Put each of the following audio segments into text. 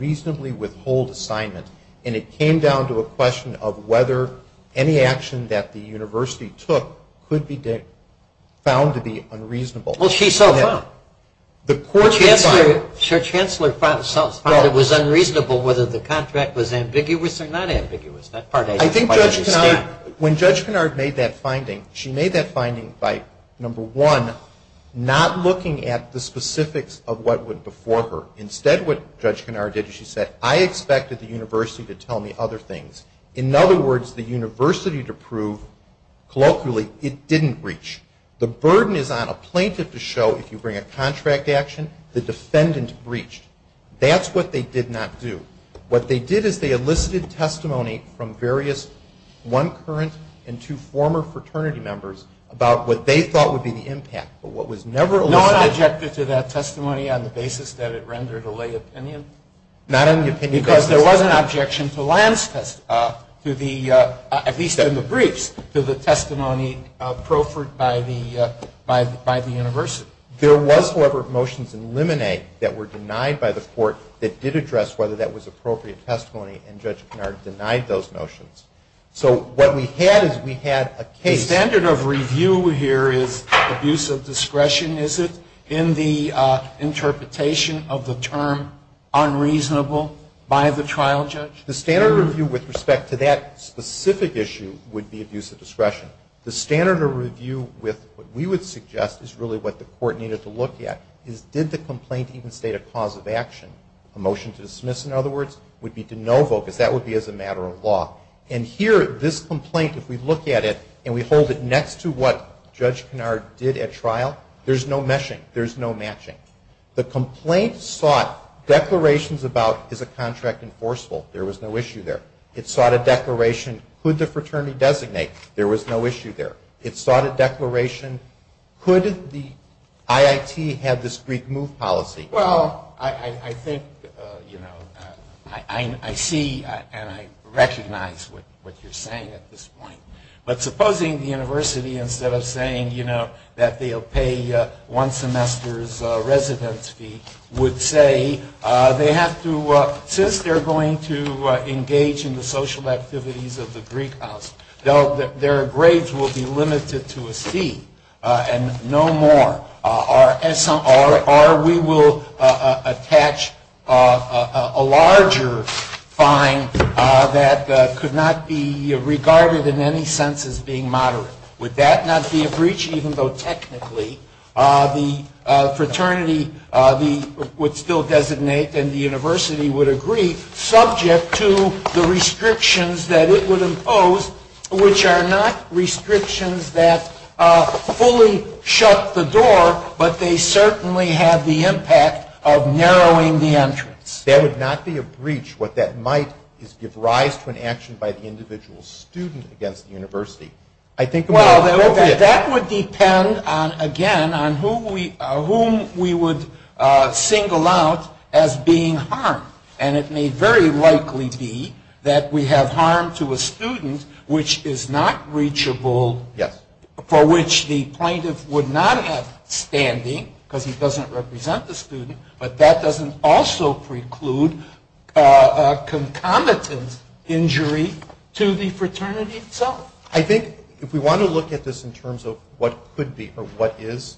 and it came down to a question of whether any action that the university took could be found to be unreasonable. Well, she saw that. The court... The chair chancellor found that it was unreasonable whether the contract was ambiguous or not ambiguous. I think Judge Kennard, when Judge Kennard made that finding, she made that finding by, number one, not looking at the specifics of what went before her. Instead, what Judge Kennard did, she said, I expected the university to tell me other things. In other words, the university to prove, colloquially, it didn't breach. The burden is on a plaintiff to show, if you bring a contract action, the defendant breached. That's what they did not do. What they did is they enlisted testimony from various one current and two former fraternity members about what they thought would be the impact. But what was never... Not objected to that testimony on the basis that it rendered a lay opinion? Not on the opinion... Because there was an objection to Lance's, at least in the breach, to the testimony proffered by the university. There was, however, motions in Lemonade that were denied by the court that did address whether that was appropriate testimony, and Judge Kennard denied those motions. So what we had is we had a case... The standard of review here is abuse of discretion, is it, in the interpretation of the term unreasonable by the trial judge? The standard review with respect to that specific issue would be abuse of discretion. The standard of review with what we would suggest is really what the court needed to look at, is did the complaint even state a cause of action? A motion to dismiss, in other words, would be to no vote, because that would be as a matter of law. And here, this complaint, if we look at it and we hold it next to what Judge Kennard did at trial, there's no meshing. There's no matching. The complaint sought declarations about, is a contract enforceable? There was no issue there. It sought a declaration, could the fraternity designate? There was no issue there. It sought a declaration, could the IIT have this Greek move policy? Well, I think, you know, I see and I recognize what you're saying at this point. But supposing the university, instead of saying, you know, that they'll pay one semester's residency, would say they have to, since they're going to engage in the social activities of the Greek house, their grades will be limited to a C and no more. Or we will attach a larger fine that could not be regarded in any sense as being moderate. Would that not be a breach, even though technically the fraternity would still designate and the university would agree subject to the restrictions that it would impose, which are not restrictions that fully shut the door, but they certainly have the impact of narrowing the entrance? That would not be a breach. What that might is give rise to an action by the individual student against the university. Well, that would depend, again, on whom we would single out as being harmed. And it may very likely be that we have harm to a student which is not reachable, for which the plaintiff would not have standing because he doesn't represent the student, but that doesn't also preclude a concomitant injury to the fraternity itself. I think if we want to look at this in terms of what could be or what is,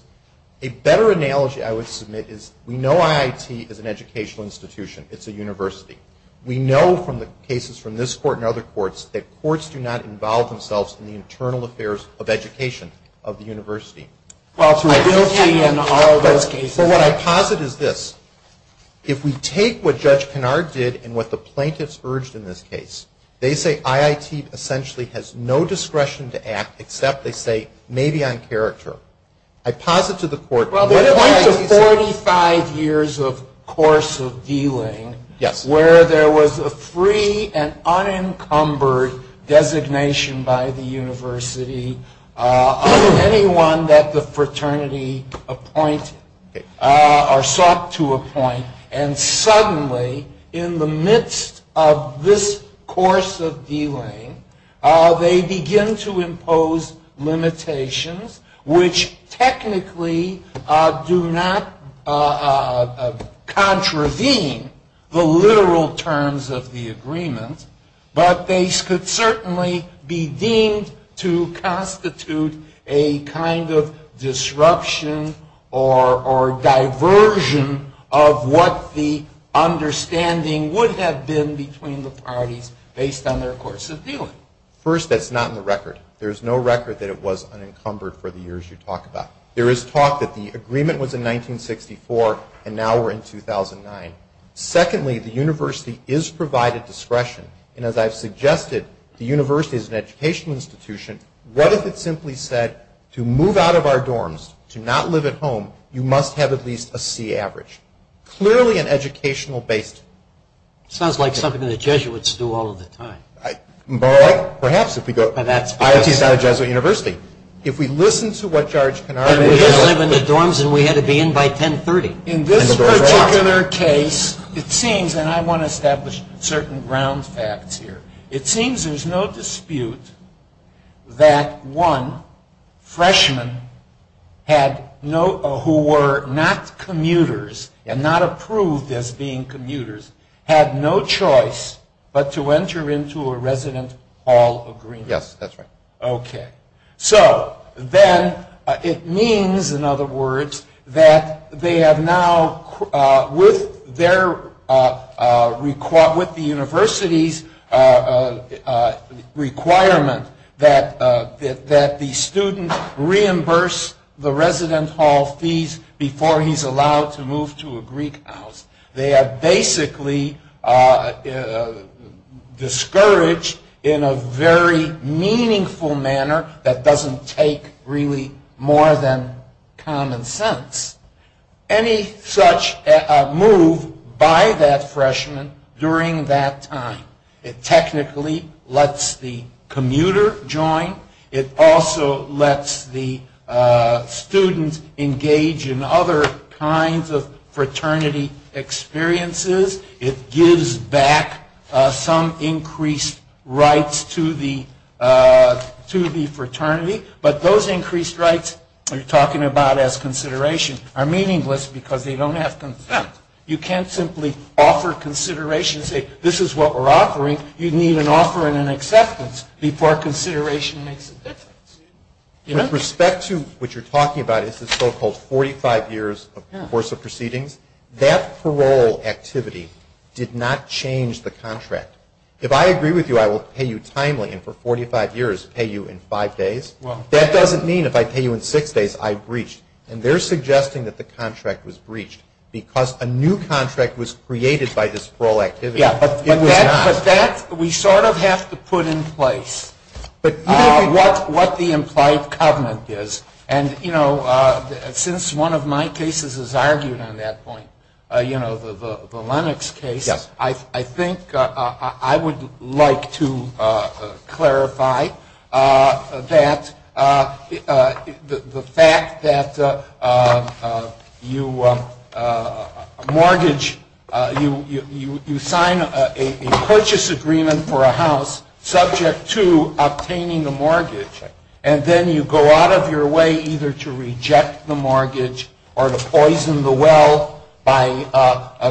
a better analogy I would submit is we know IIT is an educational institution. It's a university. We know from the cases from this court and other courts that courts do not involve themselves in the internal affairs of education of the university. But what I posit is this. If we take what Judge Kennard did and what the plaintiffs urged in this case, they say IIT essentially has no discretion to act except, they say, maybe on character. I posit to the court- Well, what about the 45 years of course of dealing where there was a free and unencumbered designation by the university of anyone that the fraternity sought to appoint, and suddenly in the midst of this course of dealing they begin to impose limitations which technically do not contravene the literal terms of the agreement, but they could certainly be deemed to constitute a kind of disruption or diversion of what the understanding would have been between the parties based on their course of dealing. First, that's not in the record. There's no record that it was unencumbered for the years you talk about. There is talk that the agreement was in 1964 and now we're in 2009. Secondly, the university is provided discretion, and as I've suggested, the university is an educational institution. What if it simply said to move out of our dorms, to not live at home, you must have at least a C average? Clearly an educational basis. Sounds like something the Jesuits do all of the time. Well, perhaps if we go to IIT's not a Jesuit university. If we listen to what Judge Kennard- And we had to live in the dorms and we had to be in by 1030. In this particular case, it seems, and I want to establish certain ground facts here, it seems there's no dispute that one freshman who were not commuters and not approved as being commuters had no choice but to enter into a resident hall agreement. Yes, that's right. Okay. So, then it means, in other words, that they have now, with the university's requirement that the student reimburse the resident hall fees before he's allowed to move to a Greek house. They are basically discouraged in a very meaningful manner that doesn't take really more than common sense. Any such move by that freshman during that time, it technically lets the commuter join. It also lets the student engage in other kinds of fraternity experiences. It gives back some increased rights to the fraternity, but those increased rights we're talking about as consideration are meaningless because they don't have consent. You can't simply offer consideration and say, this is what we're offering. You'd need an offer and an acceptance before consideration and acceptance. With respect to what you're talking about, it's the so-called 45 years of course of proceedings, that parole activity did not change the contract. If I agree with you I will pay you timely and for 45 years pay you in five days, that doesn't mean if I pay you in six days I breach. And they're suggesting that the contract was breached because a new contract was created by this parole activity. We sort of have to put in place what the implied covenant is. And since one of my cases has argued on that point, the Lennox case, I think I would like to clarify that the fact that you mortgage, you sign a purchase agreement for a house subject to obtaining a mortgage, and then you go out of your way either to reject the mortgage or to poison the well by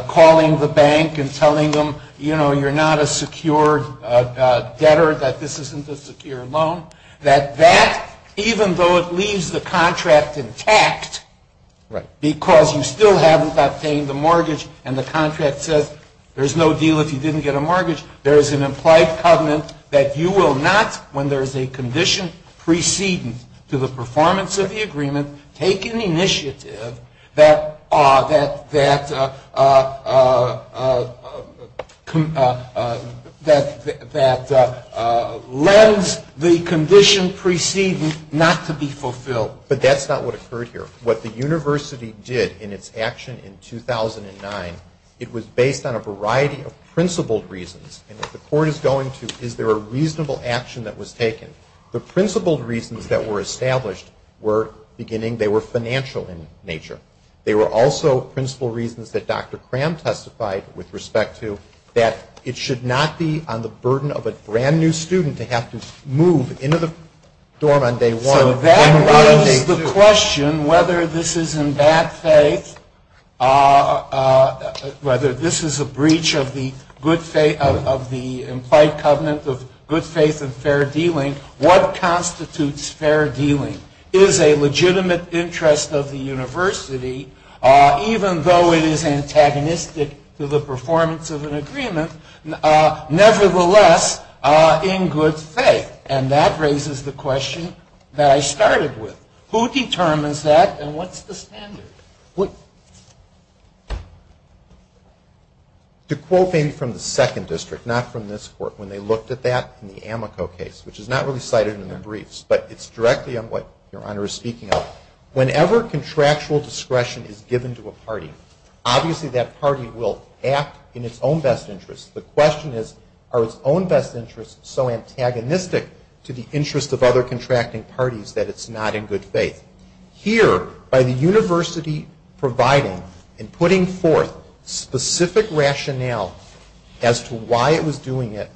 calling the bank and telling them, you know, you're not a secure debtor, that this isn't a secure loan, that that, even though it leaves the contract intact, because you still haven't obtained the mortgage and the contract says there's no deal if you didn't get a mortgage, there's an implied covenant that you will not, when there's a condition preceding to the performance of the agreement, to take an initiative that lends the condition preceding not to be fulfilled. But that's not what occurred here. What the university did in its action in 2009, it was based on a variety of principled reasons. And if the court is going to, is there a reasonable action that was taken? The principled reasons that were established were, beginning, they were financial in nature. They were also principled reasons that Dr. Cram testified with respect to, that it should not be on the burden of a brand-new student to have to move into the dorm on day one. So that raises the question, whether this is in that faith, whether this is a breach of the implied covenant of good faith and fair dealing, what constitutes fair dealing? Is a legitimate interest of the university, even though it is antagonistic to the performance of an agreement, nevertheless, in good faith? And that raises the question that I started with. Who determines that and what's the standard? To quote maybe from the second district, not from this court, when they looked at that in the Amico case, which is not really cited in the briefs, but it's directly on what Your Honor is speaking of, whenever contractual discretion is given to a party, obviously that party will act in its own best interest. The question is, are its own best interests so antagonistic to the interests of other contracting parties that it's not in good faith? Here, by the university providing and putting forth specific rationale as to why it was doing it,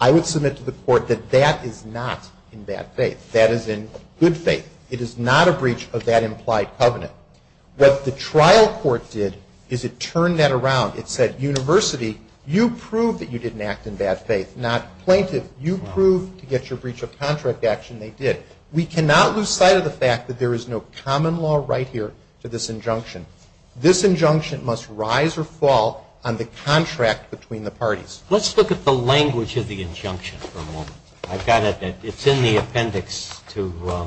I would submit to the court that that is not in bad faith. That is in good faith. It is not a breach of that implied covenant. What the trial court did is it turned that around. It said, university, you proved that you didn't act in bad faith. Not plaintiff, you proved to get your breach of contract action. They did. We cannot lose sight of the fact that there is no common law right here for this injunction. This injunction must rise or fall on the contract between the parties. Let's look at the language of the injunction for a moment. I've got it. It's in the appendix to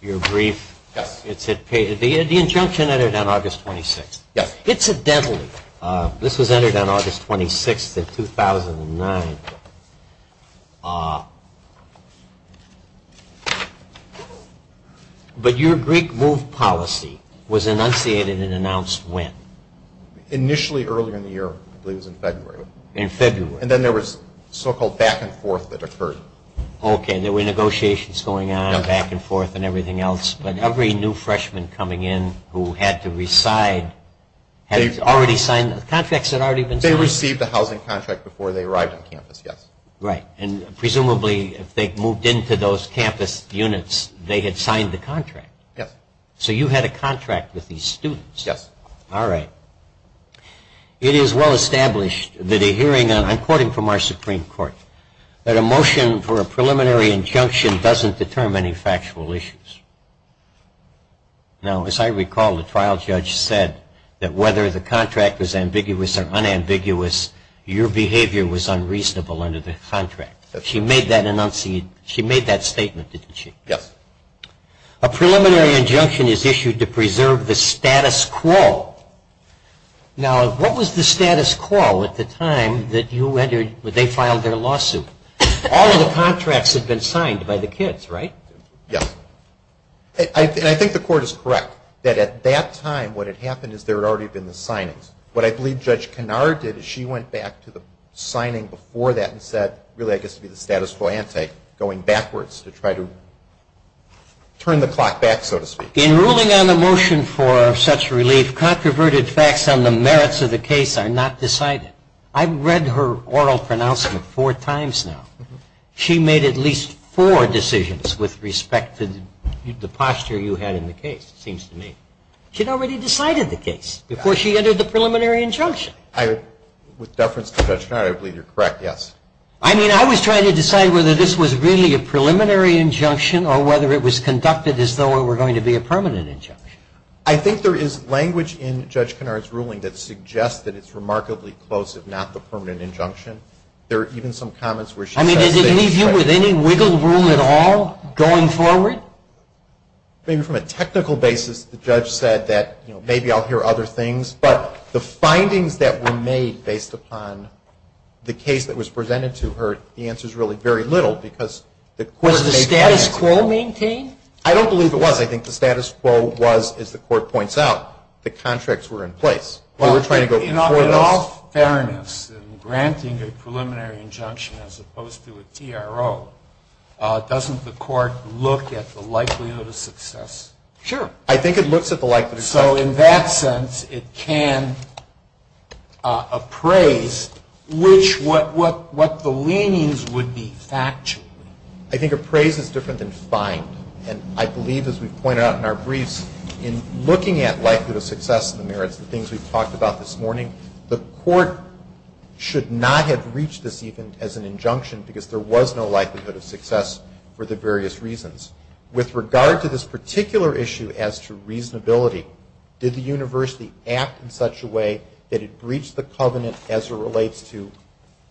your brief. The injunction entered on August 26th. Yes. Incidentally, this was entered on August 26th of 2009. But your Greek move policy was enunciated and announced when? Initially earlier in the year, I believe it was in February. In February. And then there was so-called back and forth that occurred. Okay, there were negotiations going on, back and forth and everything else. But every new freshman coming in who had to reside had already signed the contract. They received the housing contract before they arrived on campus, yes. Right. And presumably, they moved into those campus units, they had signed the contract. Yes. So you had a contract with these students. Yes. All right. It is well established that a hearing, according to our Supreme Court, that a motion for a preliminary injunction doesn't determine any factual issues. Now, as I recall, the trial judge said that whether the contract was ambiguous or unambiguous, your behavior was unreasonable under the contract. She made that statement, didn't she? Yes. A preliminary injunction is issued to preserve the status quo. Now, what was the status quo at the time that they filed their lawsuit? All of the contracts had been signed by the kids, right? Yes. And I think the court is correct that at that time, what had happened is there had already been the signings. What I believe Judge Kennard did is she went back to the signing before that and said, really I guess it would be the status quo ante, going backwards to try to turn the clock back, so to speak. In ruling on the motion for such relief, controverted facts on the merits of the case are not decided. I've read her oral pronouncement four times now. She made at least four decisions with respect to the posture you had in the case, it seems to me. She'd already decided the case before she entered the preliminary injunction. With reference to Judge Kennard, I believe you're correct, yes. I mean, I was trying to decide whether this was really a preliminary injunction or whether it was conducted as though it were going to be a permanent injunction. I think there is language in Judge Kennard's ruling that suggests that it's remarkably close, if not the permanent injunction. There are even some comments where she says that it's... I mean, did they leave you with any wiggle room at all going forward? I think from a technical basis, the judge said that, you know, maybe I'll hear other things, but the findings that were made based upon the case that was presented to her, the answer's really very little, Was the status quo maintained? I don't believe it was. I think the status quo was, as the court points out, the contracts were in place. In all fairness, in granting a preliminary injunction as opposed to a PRO, doesn't the court look at the likelihood of success? I think it looks at the likelihood of success. So, in that sense, it can appraise what the leanings would be, actually. I think appraise is different than find, and I believe, as we've pointed out in our briefs, in looking at likelihood of success in the mirror, the things we've talked about this morning, the court should not have reached this even as an injunction, because there was no likelihood of success for the various reasons. With regard to this particular issue as to reasonability, did the university act in such a way that it breached the covenant as it relates to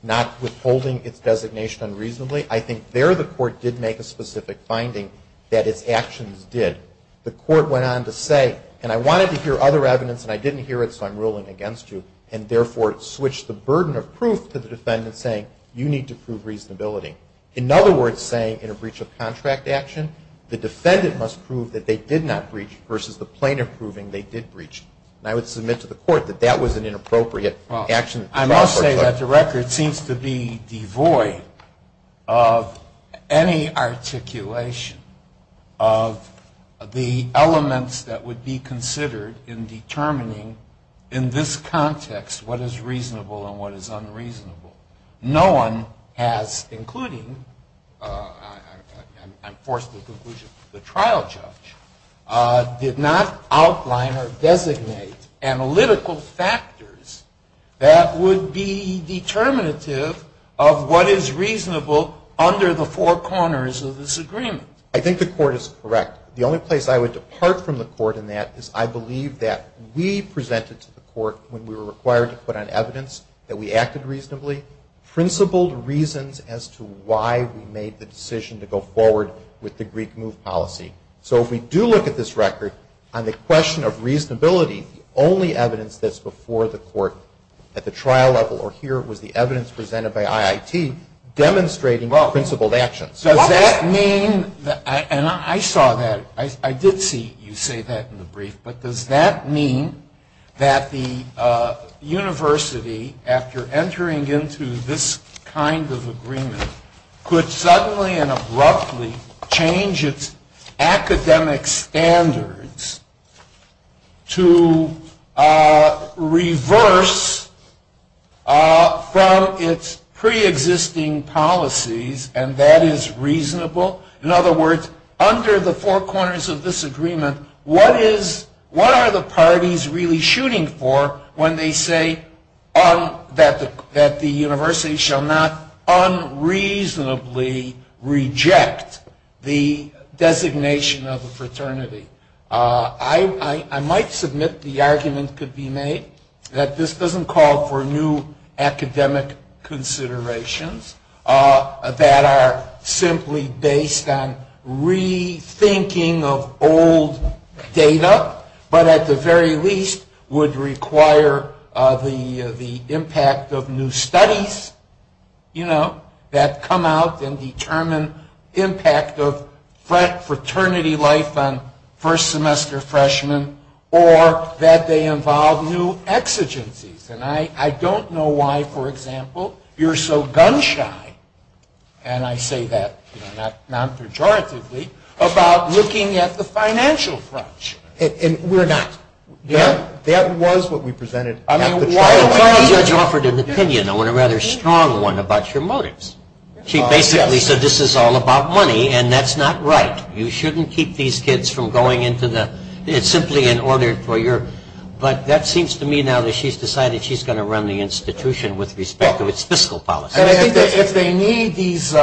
not withholding its designation unreasonably? I think there the court did make a specific finding that its actions did. The court went on to say, and I wanted to hear other evidence, and I didn't hear it, so I'm ruling against you, and therefore it switched the burden of proof to the defendant saying, you need to prove reasonability. In other words, saying in a breach of contract action, the defendant must prove that they did not breach versus the plaintiff proving they did breach. I would submit to the court that that was an inappropriate action. I must say that the record seems to be devoid of any articulation of the elements that would be considered in determining, in this context, what is reasonable and what is unreasonable. No one has, including, I'm forced to conclude it's the trial judge, did not outline or designate analytical factors that would be determinative of what is reasonable under the four corners of this agreement. I think the court is correct. The only place I would depart from the court in that is I believe that we presented to the court when we were required to put on evidence that we acted reasonably, principled reasons as to why we made the decision to go forward with the Greek move policy. So if we do look at this record, on the question of reasonability, the only evidence that's before the court at the trial level, or here, was the evidence presented by IIT demonstrating principled actions. Does that mean, and I saw that, I did see you say that in the brief, but does that mean that the university, after entering into this kind of agreement, could suddenly and abruptly change its academic standards to reverse from its pre-existing policies, and that is reasonable? In other words, under the four corners of this agreement, what are the parties really shooting for when they say that the university shall not unreasonably reject the designation of a fraternity? I might submit the argument could be made that this doesn't call for new academic considerations that are simply based on rethinking of old data, but at the very least would require the impact of new studies, you know, that come out and determine impact of fraternity life on first semester freshmen, or that they involve new exigencies. And I don't know why, for example, you're so gun-shy, and I say that non-pejoratively, about looking at the financial front. And we're not. That was what we presented at the trial level. You offered an opinion, a rather strong one, about your motives. She basically said this is all about money, and that's not right. You shouldn't keep these kids from going into the, it's simply in order for your, but that seems to me now that she's decided she's going to run the institution with respect to its fiscal policy. If they need these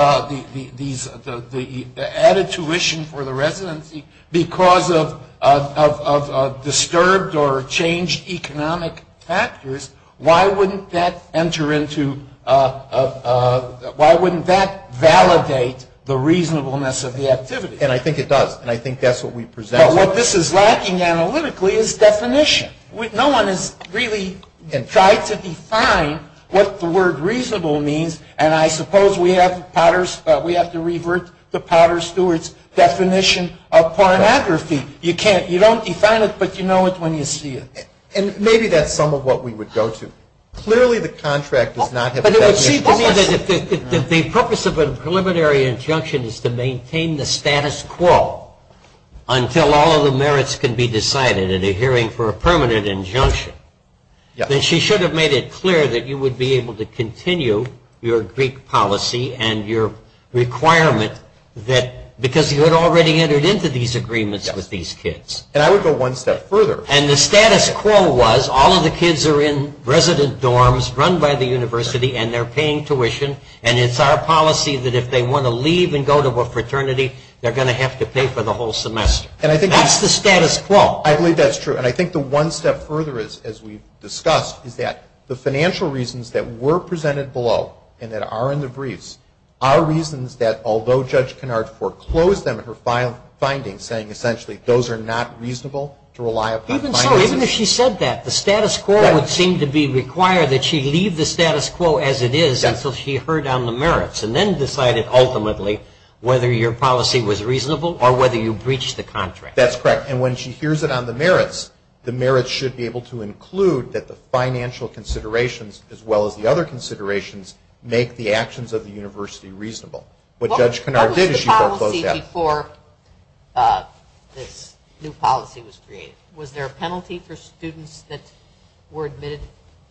added tuition for the residency because of disturbed or changed economic factors, why wouldn't that enter into, why wouldn't that validate the reasonableness of the activity? And I think it does, and I think that's what we presented. What this is lacking analytically is definition. No one has really tried to define what the word reasonable means, and I suppose we have to revert to Potter Stewart's definition of pornography. You can't, you don't define it, but you know it when you see it. And maybe that's some of what we would go to. Clearly the contract does not have a definition. The purpose of a preliminary injunction is to maintain the status quo until all of the merits can be decided in a hearing for a permanent injunction. Then she should have made it clear that you would be able to continue your Greek policy and your requirement that, because you had already entered into these agreements with these kids. And I would go one step further. And the status quo was all of the kids are in resident dorms run by the university and they're paying tuition, and it's our policy that if they want to leave and go to a fraternity, they're going to have to pay for the whole semester. That's the status quo. I believe that's true. And I think the one step further, as we discussed, is that the financial reasons that were presented below and that are in the briefs are reasons that, although Judge Kennard foreclosed on her findings, saying essentially those are not reasonable to rely upon. Even so, even if she said that, the status quo would seem to be required that she leave the status quo as it is until she heard on the merits and then decided ultimately whether your policy was reasonable or whether you breached the contract. That's correct. And when she hears it on the merits, the merits should be able to include that the financial considerations, as well as the other considerations, make the actions of the university reasonable. What Judge Kennard did is she foreclosed that. What was the policy before this new policy was created? Was there a penalty for students that were admitted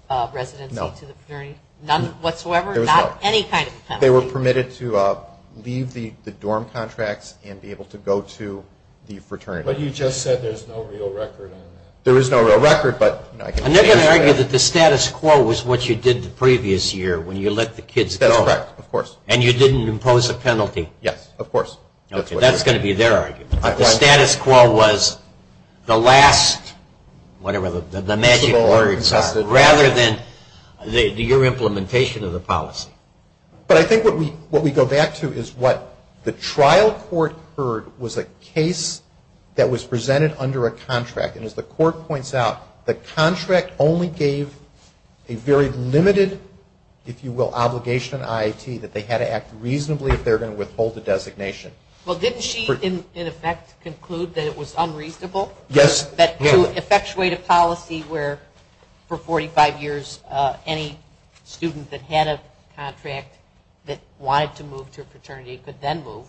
residentally? No. None whatsoever? There was none. Any kind of penalty? They were permitted to leave the dorm contracts and be able to go to the fraternity. But you just said there's no real record on that. There is no real record. I'm not going to argue that the status quo was what you did the previous year when you let the kids go. That's correct, of course. And you didn't impose a penalty. Yes, of course. Okay, that's going to be there. The status quo was the last, whatever the magic words are, rather than your implementation of the policy. But I think what we go back to is what the trial court heard was a case that was presented under a contract. And as the court points out, the contract only gave a very limited, if you will, obligation on IIT that they had to act reasonably if they were going to withhold the designation. Well, didn't she, in effect, conclude that it was unreasonable? Yes. To effectuate a policy where, for 45 years, any student that had a contract that wanted to move to a fraternity could then move.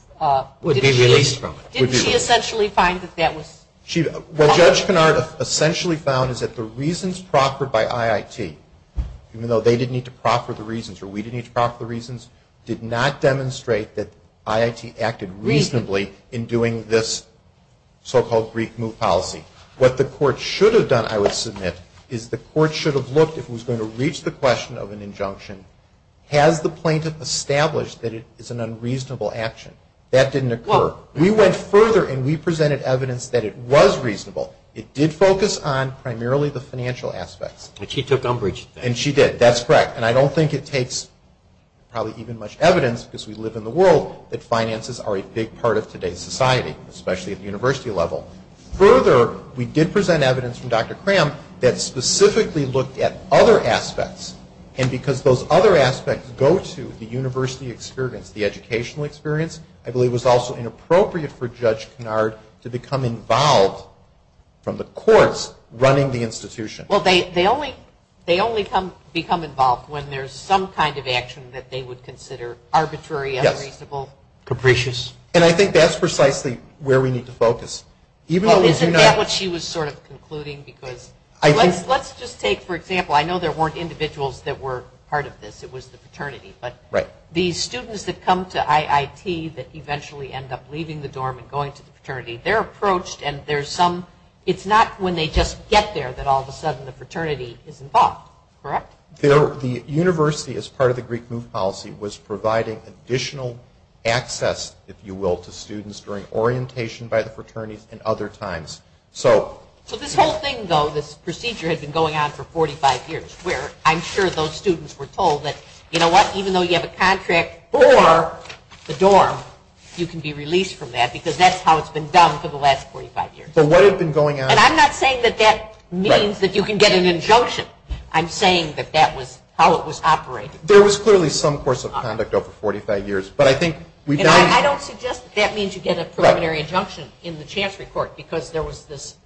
Would be released from it. Didn't she essentially find that that was? What Judge Pinard essentially found is that the reasons proffered by IIT, even though they didn't need to proffer the reasons or we didn't need to proffer the reasons, did not demonstrate that IIT acted reasonably in doing this so-called brief move policy. What the court should have done, I would submit, is the court should have looked at who's going to reach the question of an injunction. Has the plaintiff established that it's an unreasonable action? That didn't occur. We went further and we presented evidence that it was reasonable. It did focus on primarily the financial aspect. But she took umbrage. And she did. That's correct. And I don't think it takes probably even much evidence, because we live in the world, that finances are a big part of today's society, especially at the university level. Further, we did present evidence from Dr. Cram that specifically looked at other aspects. And because those other aspects go to the university experience, the educational experience, I believe it was also inappropriate for Judge Pinard to become involved from the courts running the institution. Well, they only become involved when there's some kind of action that they would consider arbitrary, unreasonable, capricious. And I think that's precisely where we need to focus. Well, isn't that what she was sort of concluding? Because let's just take, for example, I know there weren't individuals that were part of this. It was the fraternity. But the students that come to IIT that eventually end up leaving the dorm and going to the fraternity, they're approached, and it's not when they just get there that all of a sudden the fraternity is involved. Correct? The university, as part of the Greek move policy, was providing additional access, if you will, to students during orientation by the fraternity and other times. So this whole thing, though, this procedure had been going on for 45 years, where I'm sure those students were told that, you know what, even though you have a contract for the dorm, you can be released from that because that's how it's been done for the last 45 years. So what has been going on? And I'm not saying that that means that you can get an injunction. I'm saying that that was how it was operated. There was clearly some course of conduct over 45 years. And I don't suggest that that means you get a preliminary injunction in the chance report because there was this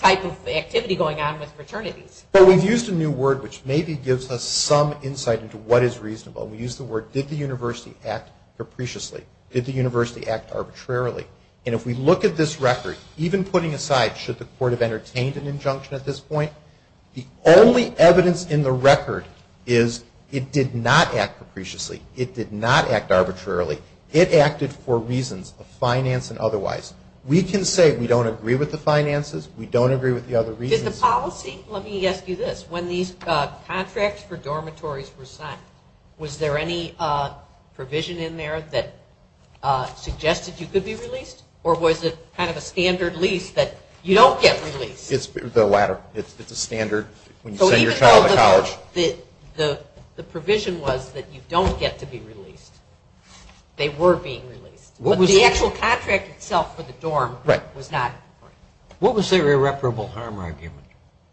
type of activity going on with fraternities. But we've used a new word which maybe gives us some insight into what is reasonable. We used the word, did the university act capriciously? Did the university act arbitrarily? And if we look at this record, even putting aside should the court have entertained an injunction at this point, the only evidence in the record is it did not act capriciously. It did not act arbitrarily. It acted for reasons of finance and otherwise. We can say we don't agree with the finances. We don't agree with the other reasons. Did the policy, let me ask you this, when these contracts for dormitories were signed, was there any provision in there that suggested you could be released? Or was it kind of a standard lease that you don't get released? It's the latter. It's the standard when you send your child to college. The provision was that you don't get to be released. They were being released. But the actual contract itself for the dorm was not. What was their irreparable harm argument?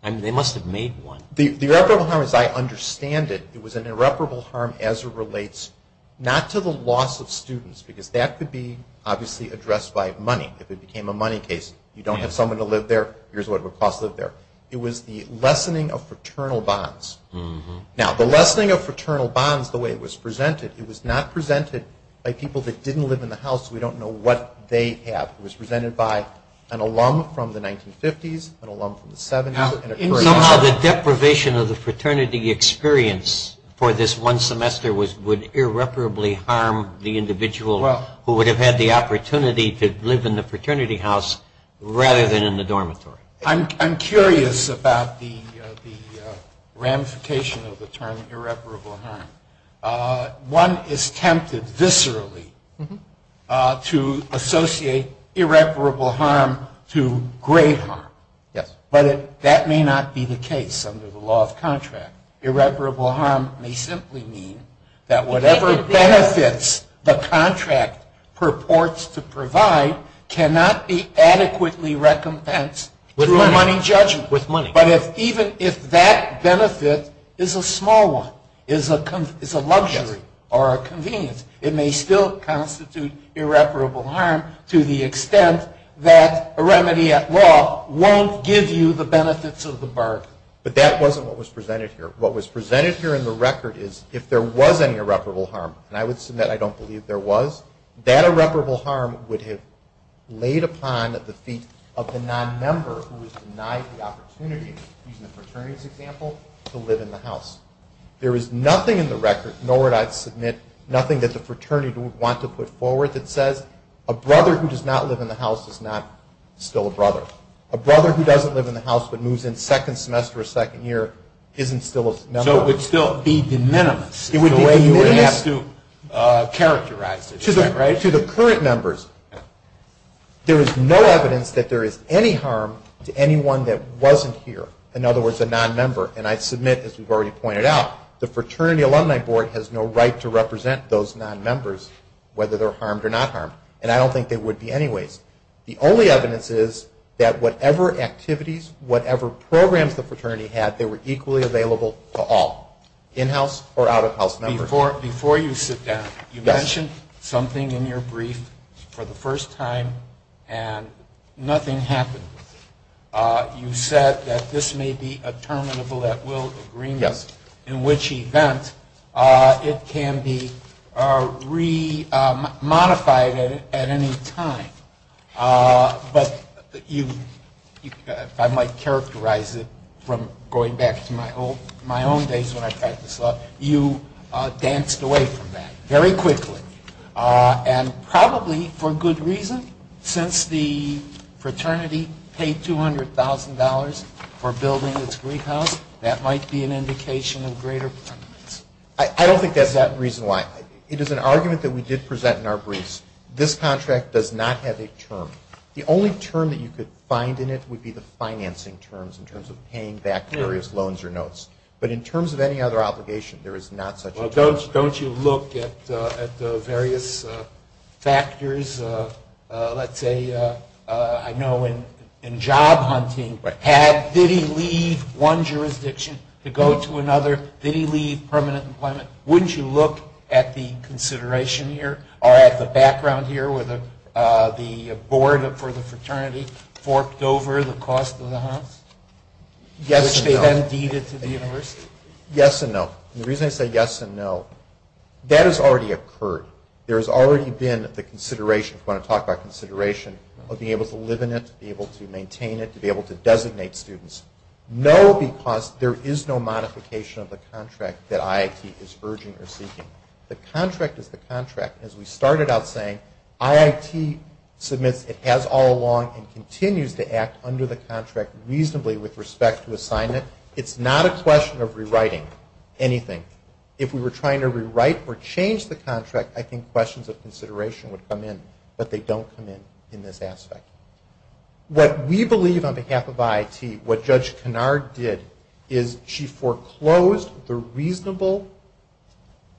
I mean, they must have made one. The irreparable harm is I understand it. It was an irreparable harm as it relates not to the loss of students, because that could be obviously addressed by money. If it became a money case, you don't have someone to live there, here's what it would cost to live there. It was the lessening of fraternal bonds. Now, the lessening of fraternal bonds, the way it was presented, it was not presented by people that didn't live in the house. We don't know what they have. It was presented by an alum from the 1950s, an alum from the 70s, and a fraternity. In the end, the deprivation of the fraternity experience for this one semester would irreparably harm the individual who would have had the opportunity to live in the fraternity house rather than in the dormitory. I'm curious about the ramification of the term irreparable harm. One is tempted viscerally to associate irreparable harm to grave harm, but that may not be the case under the law of contract. Irreparable harm may simply mean that whatever benefits the contract purports to provide cannot be adequately recompensed through a money judgment. But even if that benefit is a small one, is a luxury or a convenience, it may still constitute irreparable harm to the extent that a remedy at law won't give you the benefits of the bargain. But that wasn't what was presented here. What was presented here in the record is if there was any irreparable harm, and I would submit I don't believe there was, that irreparable harm would have laid upon the feet of the non-member who was denied the opportunity, using the fraternity as an example, to live in the house. There is nothing in the record, nor would I submit, nothing that the fraternity wants to put forward that says a brother who does not live in the house is not still a brother. A brother who doesn't live in the house but moves in second semester or second year isn't still a member. The harm would still be de minimis in the way you would have to characterize it. To the current members, there is no evidence that there is any harm to anyone that wasn't here. In other words, a non-member. And I submit, as we've already pointed out, the Fraternity Alumni Board has no right to represent those non-members whether they're harmed or not harmed. And I don't think they would be anyways. The only evidence is that whatever activities, whatever programs the fraternity had, they were equally available to all, in-house or out-of-house members. Before you sit down, you mentioned something in your brief for the first time and nothing happened. You said that this may be a terminable at-will agreement, in which event it can be re-modified at any time. But you, if I might characterize it from going back to my own days when I practiced law, you danced away from that very quickly. And probably for good reason, since the fraternity paid $200,000 for building this rehab, that might be an indication of greater purpose. I don't think that's the reason why. It is an argument that we did present in our briefs. This contract does not have a term. The only term that you could find in it would be the financing terms in terms of paying back various loans or notes. Don't you look at the various factors? Let's say, I know in job hunting, did he leave one jurisdiction to go to another? Did he leave permanent employment? Wouldn't you look at the consideration here or at the background here where the board for the fraternity forked over the cost of the hunt, which they then deeded to the university? Yes and no. The reason I say yes and no, that has already occurred. There has already been the consideration, if you want to talk about consideration, of being able to live in it, to be able to maintain it, to be able to designate students. No, because there is no modification of the contract that IIT is urging or seeking. The contract is the contract. As we started out saying, IIT submits, it has all along, and continues to act under the contract reasonably with respect to assignment. It's not a question of rewriting anything. If we were trying to rewrite or change the contract, I think questions of consideration would come in, but they don't come in in this aspect. What we believe on behalf of IIT, what Judge Kennard did, is she foreclosed the reasonable,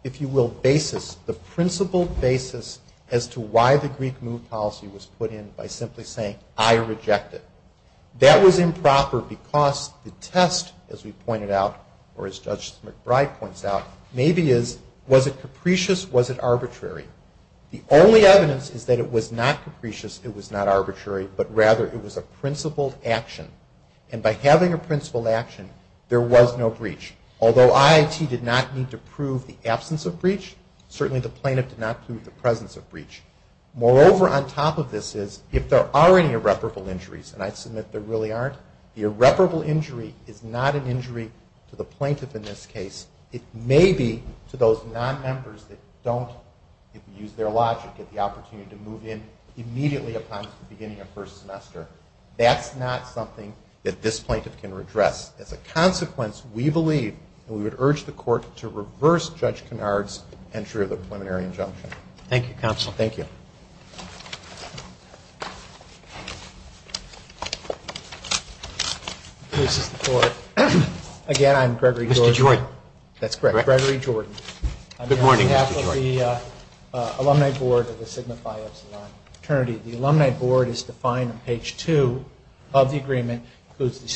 if you will, basis, the principled basis, as to why the Greek move policy was put in by simply saying, I reject it. That was improper because the test, as we pointed out, or as Judge McBride points out, maybe is, was it capricious, was it arbitrary? The only evidence is that it was not capricious, it was not arbitrary, but rather it was a principled action. And by having a principled action, there was no breach. Although IIT did not need to prove the absence of breach, certainly the plaintiff did not prove the presence of breach. Moreover, on top of this is, if there are any irreparable injuries, and I submit there really aren't, the irreparable injury is not an injury to the plaintiff in this case. It may be to those non-members that don't, if you use their logic, get the opportunity to move in immediately upon the beginning of first semester. That's not something that this plaintiff can redress. As a consequence, we believe, we would urge the court to reverse Judge Kennard's entry of the preliminary injunction. Thank you, Counsel. Thank you. Again, I'm Gregory Jordan. Mr. Jordan. That's correct, Gregory Jordan. Good morning, Mr. Jordan. I'm here on behalf of the Alumni Board of the Sigma Phi Alpha Psi fraternity. The Alumni Board is defined on page two of the agreement.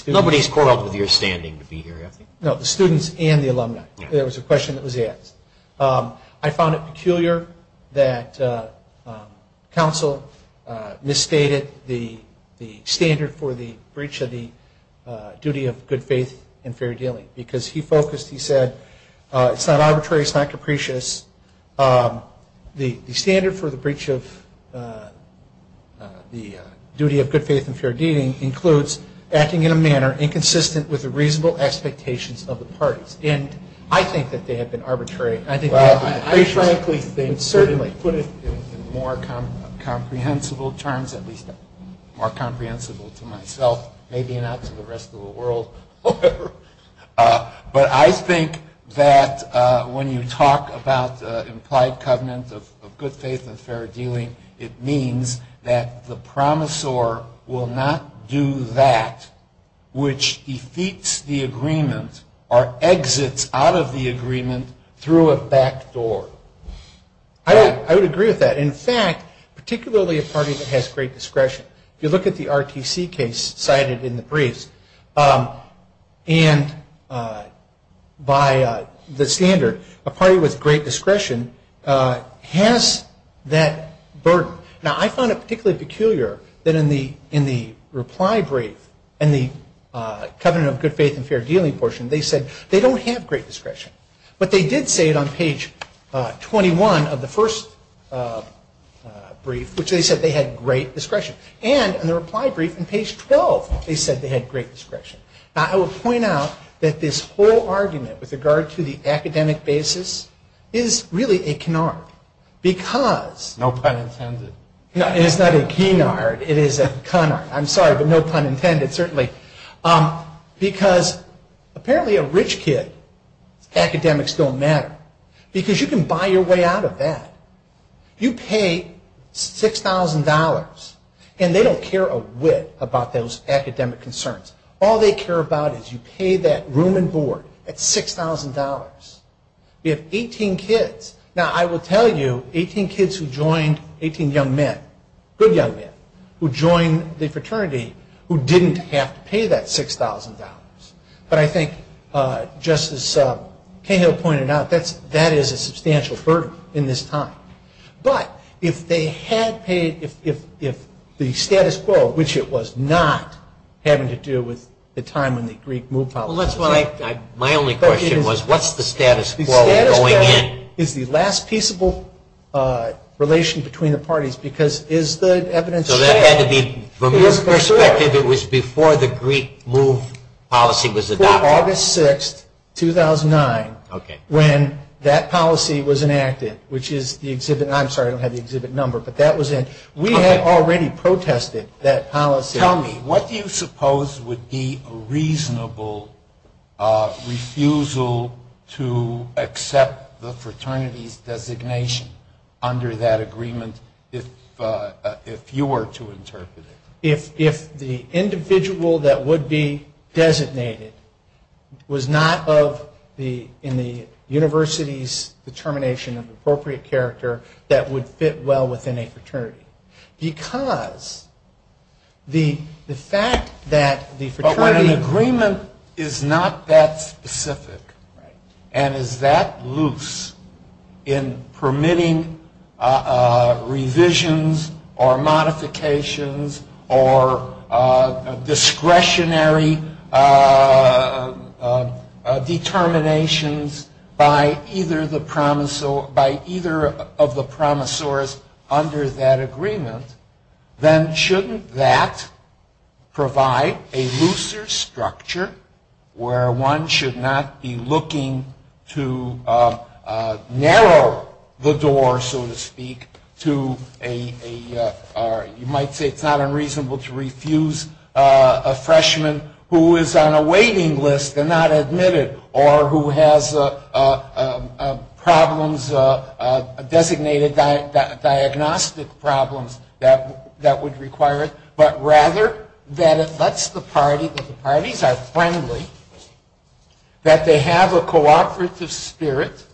Nobody is caught off of your standing to be here. No, the students and the alumni. There was a question that was asked. I found it peculiar that Counsel misstated the standard for the breach of the duty of good faith and fair dealing because he focused, he said, it's not arbitrary, it's not capricious. The standard for the breach of the duty of good faith and fair dealing includes acting in a manner inconsistent with the reasonable expectations of the parties. I think that they have been arbitrary. I think they have been capricious. Well, frankly, they certainly put it in more comprehensible terms, at least more comprehensible to myself, maybe not to the rest of the world. But I think that when you talk about the implied covenant of good faith and fair dealing, it means that the promisor will not do that, which defeats the agreement or exits out of the agreement through a back door. I would agree with that. In fact, particularly a party that has great discretion, if you look at the RTC case cited in the brief, and by the standard, a party with great discretion has that burden. Now, I found it particularly peculiar that in the reply brief, in the covenant of good faith and fair dealing portion, they said they don't have great discretion. But they did say it on page 21 of the first brief, which they said they had great discretion. And in the reply brief on page 12, they said they had great discretion. Now, I will point out that this whole argument with regard to the academic basis is really a canard. Because... No pun intended. No, and it's not a keenard. It is a canard. I'm sorry, but no pun intended, certainly. Because apparently a rich kid, academics don't matter. Because you can buy your way out of that. You pay $6,000, and they don't care a whit about those academic concerns. All they care about is you pay that room and board at $6,000. You have 18 kids. Now, I will tell you, 18 kids who joined, 18 young men, good young men, who joined the fraternity who didn't have to pay that $6,000. But I think, just as Kato pointed out, that is a substantial burden in this time. But if they had paid, if the status quo, which it was not having to do with the time and the Greek move policy... Well, that's what I... My only question was, what's the status quo going in? The status quo is the last peaceable relation between the parties. Because is the evidence... So that had to be, from your perspective, it was before the Greek move policy was adopted. It was August 6, 2009, when that policy was enacted, which is the exhibit... I'm sorry, I don't have the exhibit number, but that was... We had already protested that policy. Tell me, what do you suppose would be a reasonable refusal to accept the fraternity's designation under that agreement if you were to interpret it? If the individual that would be designated was not in the university's determination of appropriate character that would fit well within a fraternity. Because the fact that the fraternity agreement... Revisions or modifications or discretionary determinations by either of the promisors under that agreement, then shouldn't that provide a looser structure where one should not be looking to narrow the door, so to speak, to a... You might say it's not unreasonable to refuse a freshman who is on a waiting list and not admitted or who has problems, designated diagnostic problems that would require it. But rather that it lets the party, that the parties are friendly, that they have a cooperative spirit,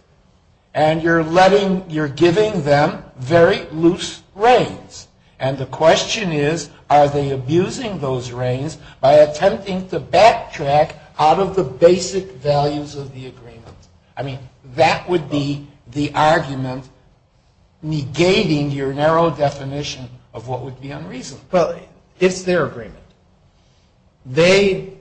and you're letting... You're giving them very loose reins. And the question is, are they abusing those reins by attempting to backtrack out of the basic values of the agreement? I mean, that would be the argument negating your narrow definition of what would be unreasonable. But it's their agreement. They,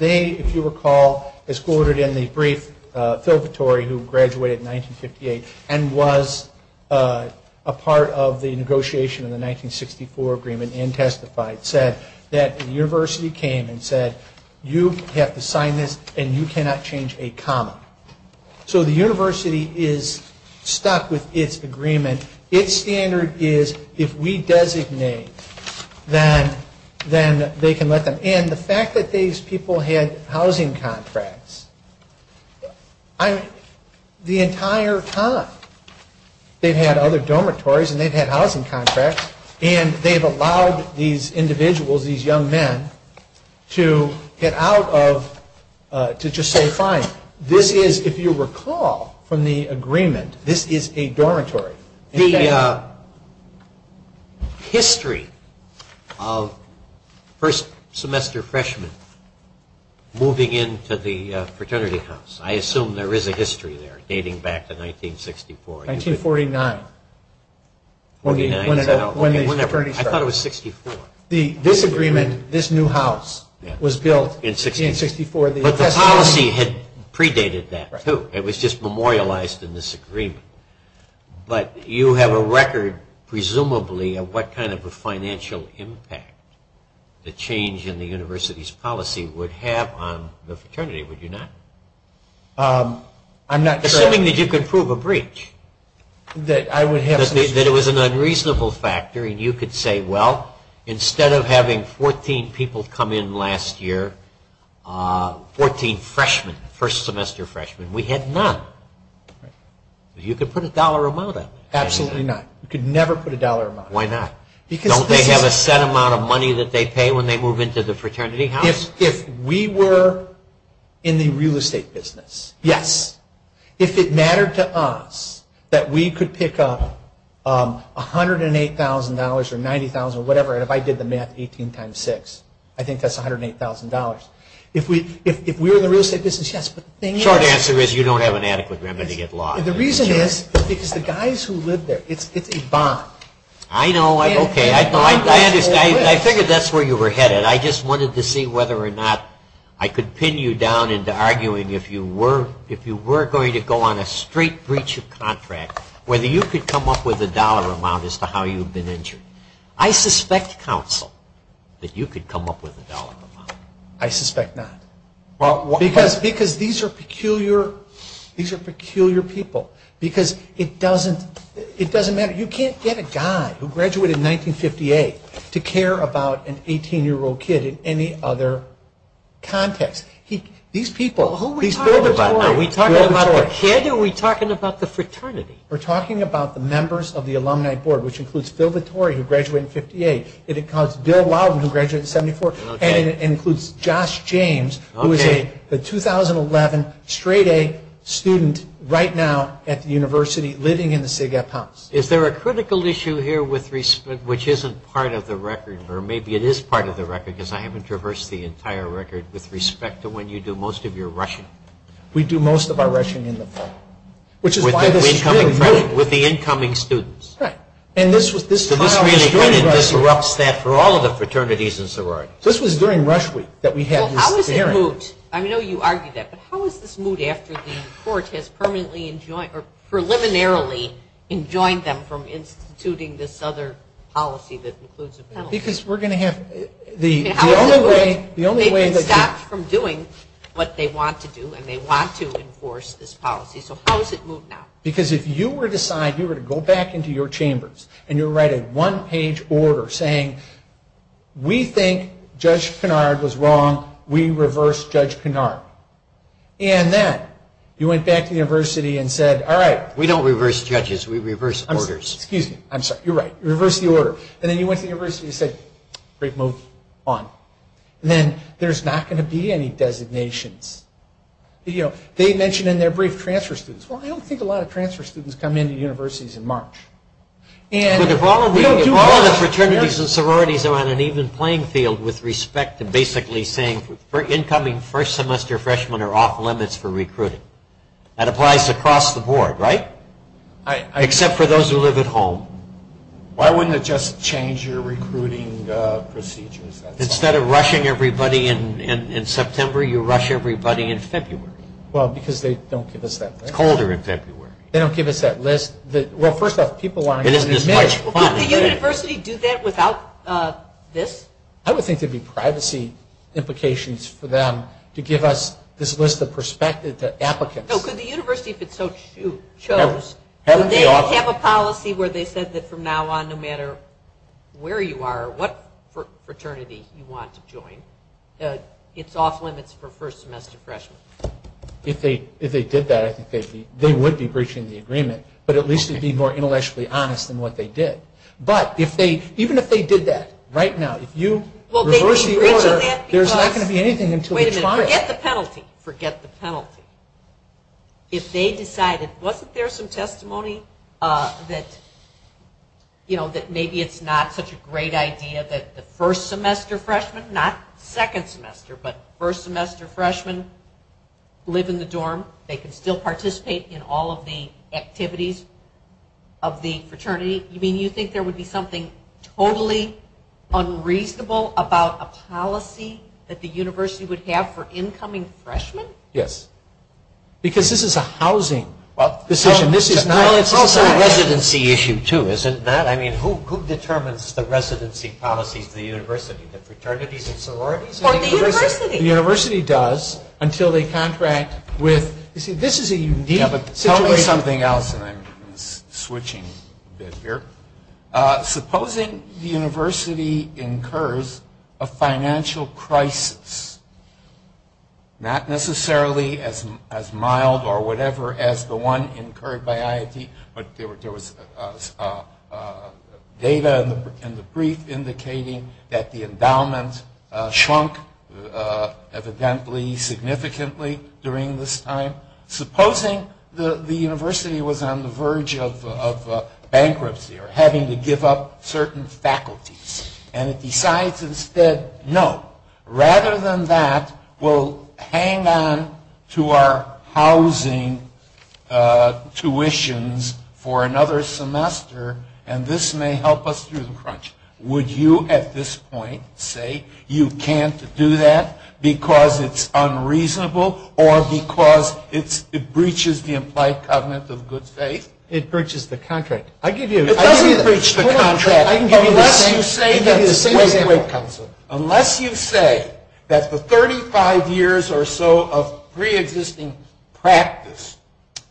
if you recall, escorted in the brief purgatory who graduated in 1958 and was a part of the negotiation of the 1964 agreement and testified, said that the university came and said, you have to sign this and you cannot change a comma. So the university is stuck with its agreement. Its standard is, if we designate, then they can let them in. The fact that these people had housing contracts, the entire time they've had other dormitories and they've had housing contracts and they've allowed these individuals, these young men, to get out of, to just say, fine. This is, if you recall from the agreement, this is a dormitory. The history of first semester freshmen moving into the fraternity house, I assume there is a history there dating back to 1964. 1949. 1949. I thought it was 1964. This agreement, this new house, was built in 1964. But the policy had predated that, too. It was just memorialized in this agreement. But you have a record, presumably, of what kind of a financial impact the change in the university's policy would have on the fraternity, would you not? I'm not sure. Assuming that you could prove a breach. That it was an unreasonable factor and you could say, well, instead of having 14 people come in last year, 14 freshmen, first semester freshmen, we had none. You could put a dollar amount on it. Absolutely not. You could never put a dollar amount on it. Why not? Don't they have a set amount of money that they pay when they move into the fraternity house? If we were in the real estate business, yes. If it mattered to us that we could pick up $108,000 or $90,000 or whatever, and if I did the math, 18 times 6, I think that's $108,000. If we were in the real estate business, yes. Short answer is you don't have an adequate remedy at law. The reason is because the guys who live there, it's a bond. I know. Okay. I figured that's where you were headed. I just wanted to see whether or not I could pin you down into arguing if you were going to go on a straight breach of contract, whether you could come up with a dollar amount as to how you've been injured. I suspect, counsel, that you could come up with a dollar amount. I suspect not. Because these are peculiar people because it doesn't matter. You can't get a guy who graduated in 1958 to care about an 18-year-old kid in any other context. These people. Who are we talking about? Are we talking about the kid or are we talking about the fraternity? We're talking about the members of the alumni board, which includes Phil Vittori, who graduated in 58, and it includes Bill Loudon, who graduated in 74, and it includes Josh James, who is a 2011 straight-A student right now at the university living in the SIGEP house. Is there a critical issue here which isn't part of the record, or maybe it is part of the record because I haven't traversed the entire record, with respect to when you do most of your rushing? We do most of our rushing in the fall. With the incoming students. And this really disrupts that for all of the fraternities and sororities. This was during rush week that we had these hearings. How is this moot? I know you argued that, but how is this moot after the court has preliminarily enjoined them from instituting this other policy that includes a penalty? Because we're going to have the only way. They can stop from doing what they want to do, and they want to enforce this policy. So how is it moot now? Because if you were to go back into your chambers and you were to write a one-page order saying, we think Judge Kennard was wrong. We reverse Judge Kennard. And then you went back to the university and said, all right, we don't reverse judges. We reverse orders. Excuse me. I'm sorry. You're right. You reverse the order. And then you went to the university and said, great move. On. And then there's not going to be any designations. Well, I don't think a lot of transfer students come into universities in March. But if all of the fraternities and sororities are on an even playing field with respect and basically saying, incoming first semester freshmen are off limits for recruiting. That applies across the board, right? Except for those who live at home. Why wouldn't it just change your recruiting procedures? Instead of rushing everybody in September, you rush everybody in February. Well, because they don't give us that list. It's colder in February. They don't give us that list. Well, first off, people aren't even admitted. Well, could the university do that without this? I would think it would be privacy implications for them to give us this list of perspectives that applicants have. So could the university, if it so chose, have a policy where they said that from now on, no matter where you are or what fraternity you want to join, it's off limits for first semester freshmen? If they did that, they would be breaching the agreement. But at least they'd be more intellectually honest in what they did. But even if they did that right now, if you reverse the order, there's not going to be anything until it's filed. Forget the penalty. If they decided, wasn't there some testimony that maybe it's not such a great idea that the first semester freshmen, not second semester, but first semester freshmen live in the dorm, they can still participate in all of the activities of the fraternity? You mean you think there would be something totally unreasonable about a policy that the university would have for incoming freshmen? Yes. Because this is a housing decision. This is not a residency issue, too, is it not? I mean, who determines the residency policy at the university? The fraternities and sororities? Or the university? The university does until they contract with – you see, this is a unique situation. Tell me something else, and I'm switching gears here. Supposing the university incurs a financial crisis, not necessarily as mild or whatever as the one incurred by IIT, but there was data in the brief indicating that the endowment shrunk evidently significantly during this time. Supposing the university was on the verge of bankruptcy or having to give up certain faculties, and decides instead, No. Rather than that, we'll hang on to our housing tuitions for another semester, and this may help us through the crunch. Would you at this point say you can't do that because it's unreasonable or because it breaches the implied covenant of good faith? It breaches the contract. It doesn't breach the contract unless you say that the 35 years or so of pre-existing practice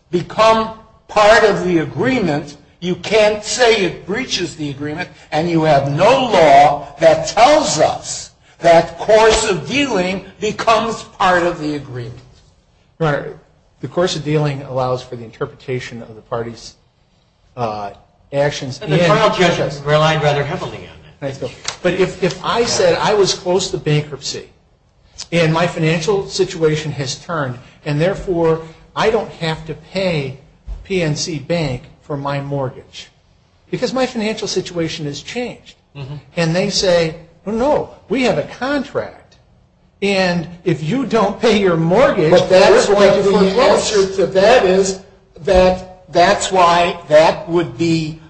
become part of the agreement. You can't say it breaches the agreement, and you have no law that tells us that course of dealing becomes part of the agreement. Right. The course of dealing allows for the interpretation of the party's actions. But if I said I was close to bankruptcy, and my financial situation has turned, and therefore I don't have to pay PNC Bank for my mortgage, because my financial situation has changed, and they say, No, we have a contract. And if you don't pay your mortgage, that's why that would be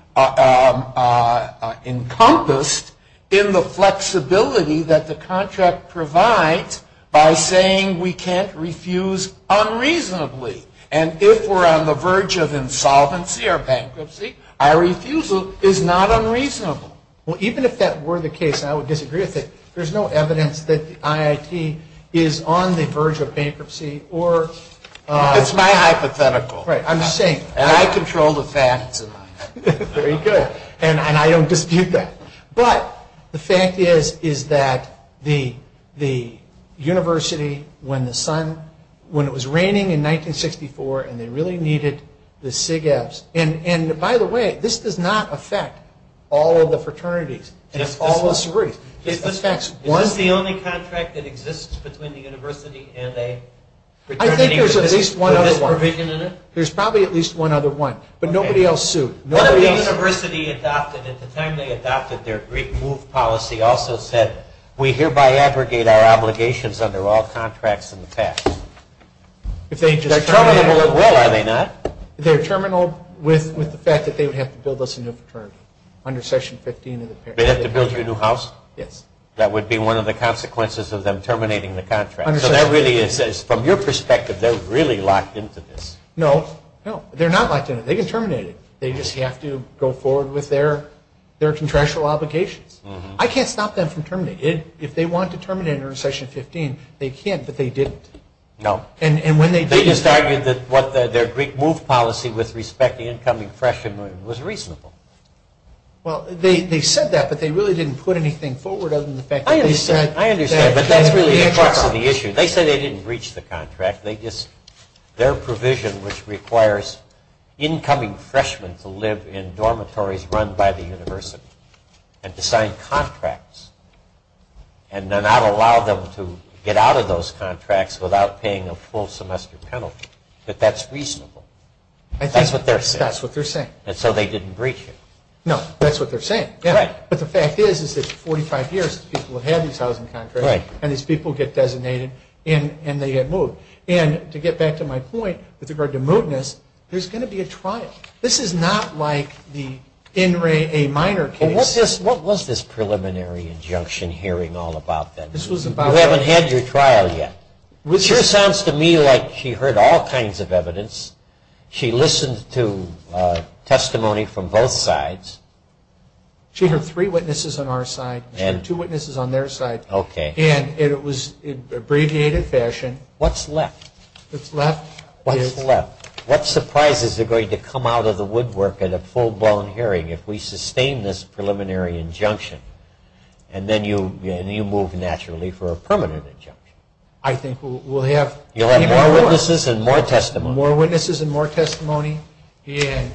encompassed in the flexibility that the contract provides by saying we can't refuse unreasonably. And if we're on the verge of insolvency or bankruptcy, our refusal is not unreasonable. Well, even if that were the case, and I would disagree with it, there's no evidence that the IIT is on the verge of bankruptcy or... It's my hypothetical. Right. I'm just saying. And I control the facts. Very good. And I don't dispute that. But the fact is, is that the university, when the sun... When it was raining in 1964, and they really needed the SIGEVs... And, by the way, this does not affect all of the fraternities. It affects one... It's the only contract that exists between the university and a fraternity... I think there's at least one other one. There's probably at least one other one. But nobody else sued. What if the university adopted, at the time they adopted their Greek move policy, also said we hereby aggregate our obligations under all contracts in the past? If they... Well, are they not? If they're terminal with the fact that they would have to build us a new fraternity. Under session 15... They have to build you a new house? Yes. That would be one of the consequences of them terminating the contract. So that really is... From your perspective, they're really locked into this. No. No. They're not locked in. They can terminate it. They just have to go forward with their contractual obligations. I can't stop them from terminating. If they want to terminate it under session 15, they can, but they didn't. No. They just argued that their Greek move policy with respect to incoming freshmen was reasonable. Well, they said that, but they really didn't put anything forward other than the fact that... I understand. I understand. But that's really the crux of the issue. They said they didn't breach the contract. They just... Their provision, which requires incoming freshmen to live in dormitories run by the university and to sign contracts and not allow them to get out of those contracts without paying a full semester penalty. But that's reasonable. That's what they're saying. That's what they're saying. And so they didn't breach it. No. That's what they're saying. Right. But the fact is, is that 45 years, people have had these housing contracts. Right. And these people get designated and they get moved. And to get back to my point with regard to movedness, there's going to be a trial. This is not like the NRAA minor case. What was this preliminary injunction hearing all about then? This was about... You haven't had your trial yet. It sure sounds to me like she heard all kinds of evidence. She listened to testimony from both sides. She heard three witnesses on our side and two witnesses on their side. Okay. What's left? What's left is... What's left? If we come out of the woodwork at a full-blown hearing, if we sustain this preliminary injunction and then you move naturally for a permanent injunction. I think we'll have... You'll have more witnesses and more testimony. More witnesses and more testimony and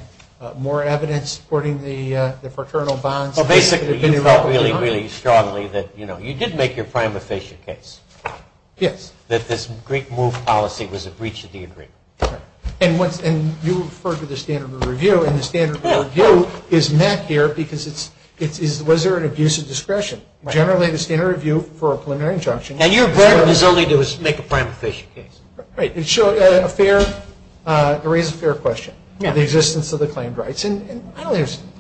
more evidence supporting the fraternal bonds. Well, basically, you felt really, really strongly that, you know, you did make your primary patient case. Yes. That this Greek move policy was a breach of the agreement. And you referred to the standard of review, and the standard of review is met there because it's... Was there an abuse of discretion? Generally, the standard of review for a preliminary injunction... Now, you're very resilient to make a primary patient case. Great. It raises a fair question. Yeah. The existence of the claimed rights and...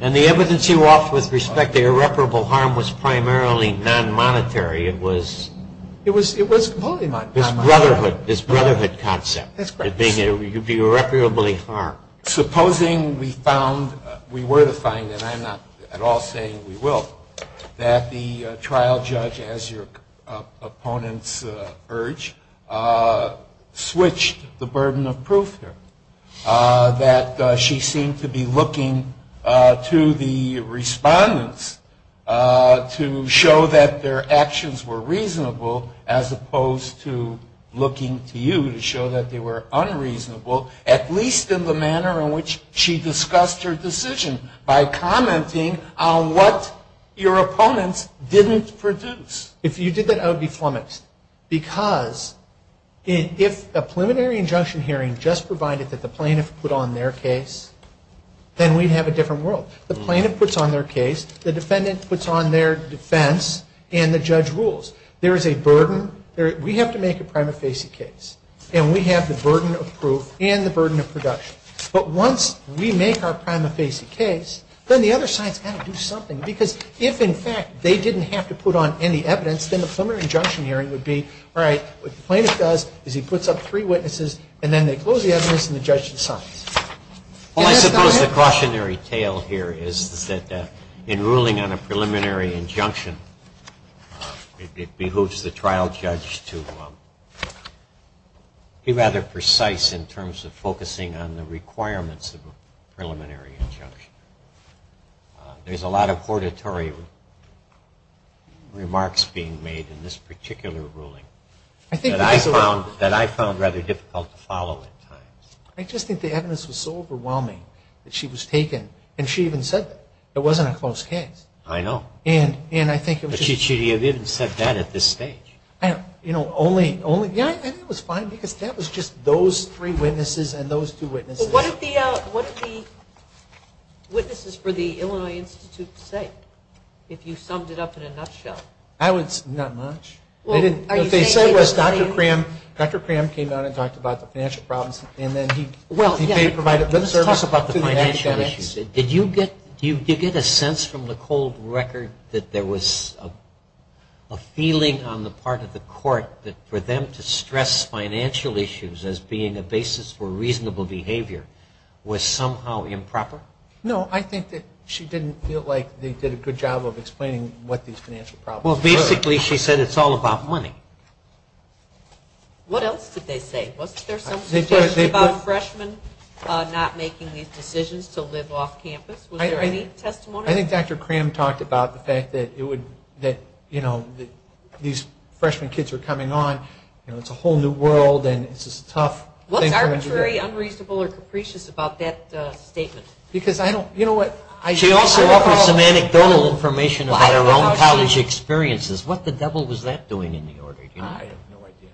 And the evidence you offer with respect to irreparable harm was primarily non-monetary. It was... It was completely non-monetary. Brotherhood. This brotherhood concept. That they could be irreparably harmed. Supposing we found, we were to find, and I'm not at all saying we will, that the trial judge, as your opponents urge, switched the burden of proof there. That she seemed to be looking to the respondents to show that their actions were reasonable as opposed to looking to you to show that they were unreasonable, at least in the manner in which she discussed her decision, by commenting on what your opponent didn't produce. If you did that, I would be flummoxed. Because if a preliminary injunction hearing just provided that the plaintiff put on their case, then we'd have a different world. The plaintiff puts on their case, the defendant puts on their defense, and the judge rules. There is a burden. We have to make a prima facie case. And we have the burden of proof and the burden of production. But once we make our prima facie case, then the other side has to do something. Because if, in fact, they didn't have to put on any evidence, then the preliminary injunction hearing would be, all right, what the plaintiff does is he puts up three witnesses, and then they close the evidence and the judge decides. Well, I suppose the cautionary tale here is that in ruling on a preliminary injunction, it behooves the trial judge to be rather precise in terms of focusing on the requirements of a preliminary injunction. There's a lot of hortatory remarks being made in this particular ruling that I found rather difficult to follow at times. I just think the evidence was so overwhelming that she was taken. And she even said that it wasn't a closed case. I know. She even said that at this stage. I think it was fine because that was just those three witnesses and those two witnesses. What did the witnesses for the Illinois Institute say, if you summed it up in a nutshell? Not much. What they said was Dr. Cram came out and talked about the financial problems, and then he provided good service about the financial issues. Did you get a sense from the cold record that there was a feeling on the part of the court that for them to stress financial issues as being a basis for reasonable behavior was somehow improper? No, I think that she didn't feel like they did a good job of explaining what these financial problems were. Well, basically, she said it's all about money. What else did they say? Wasn't there something about freshmen not making these decisions to live off campus? Was there any testimony? I think Dr. Cram talked about the fact that these freshman kids were coming on. It's a whole new world, and it's a tough thing for them to do. What's arbitrary, unreasonable, or capricious about that statement? She also offered some anecdotal information about her own college experiences. What the devil was that doing in the order? I have no idea.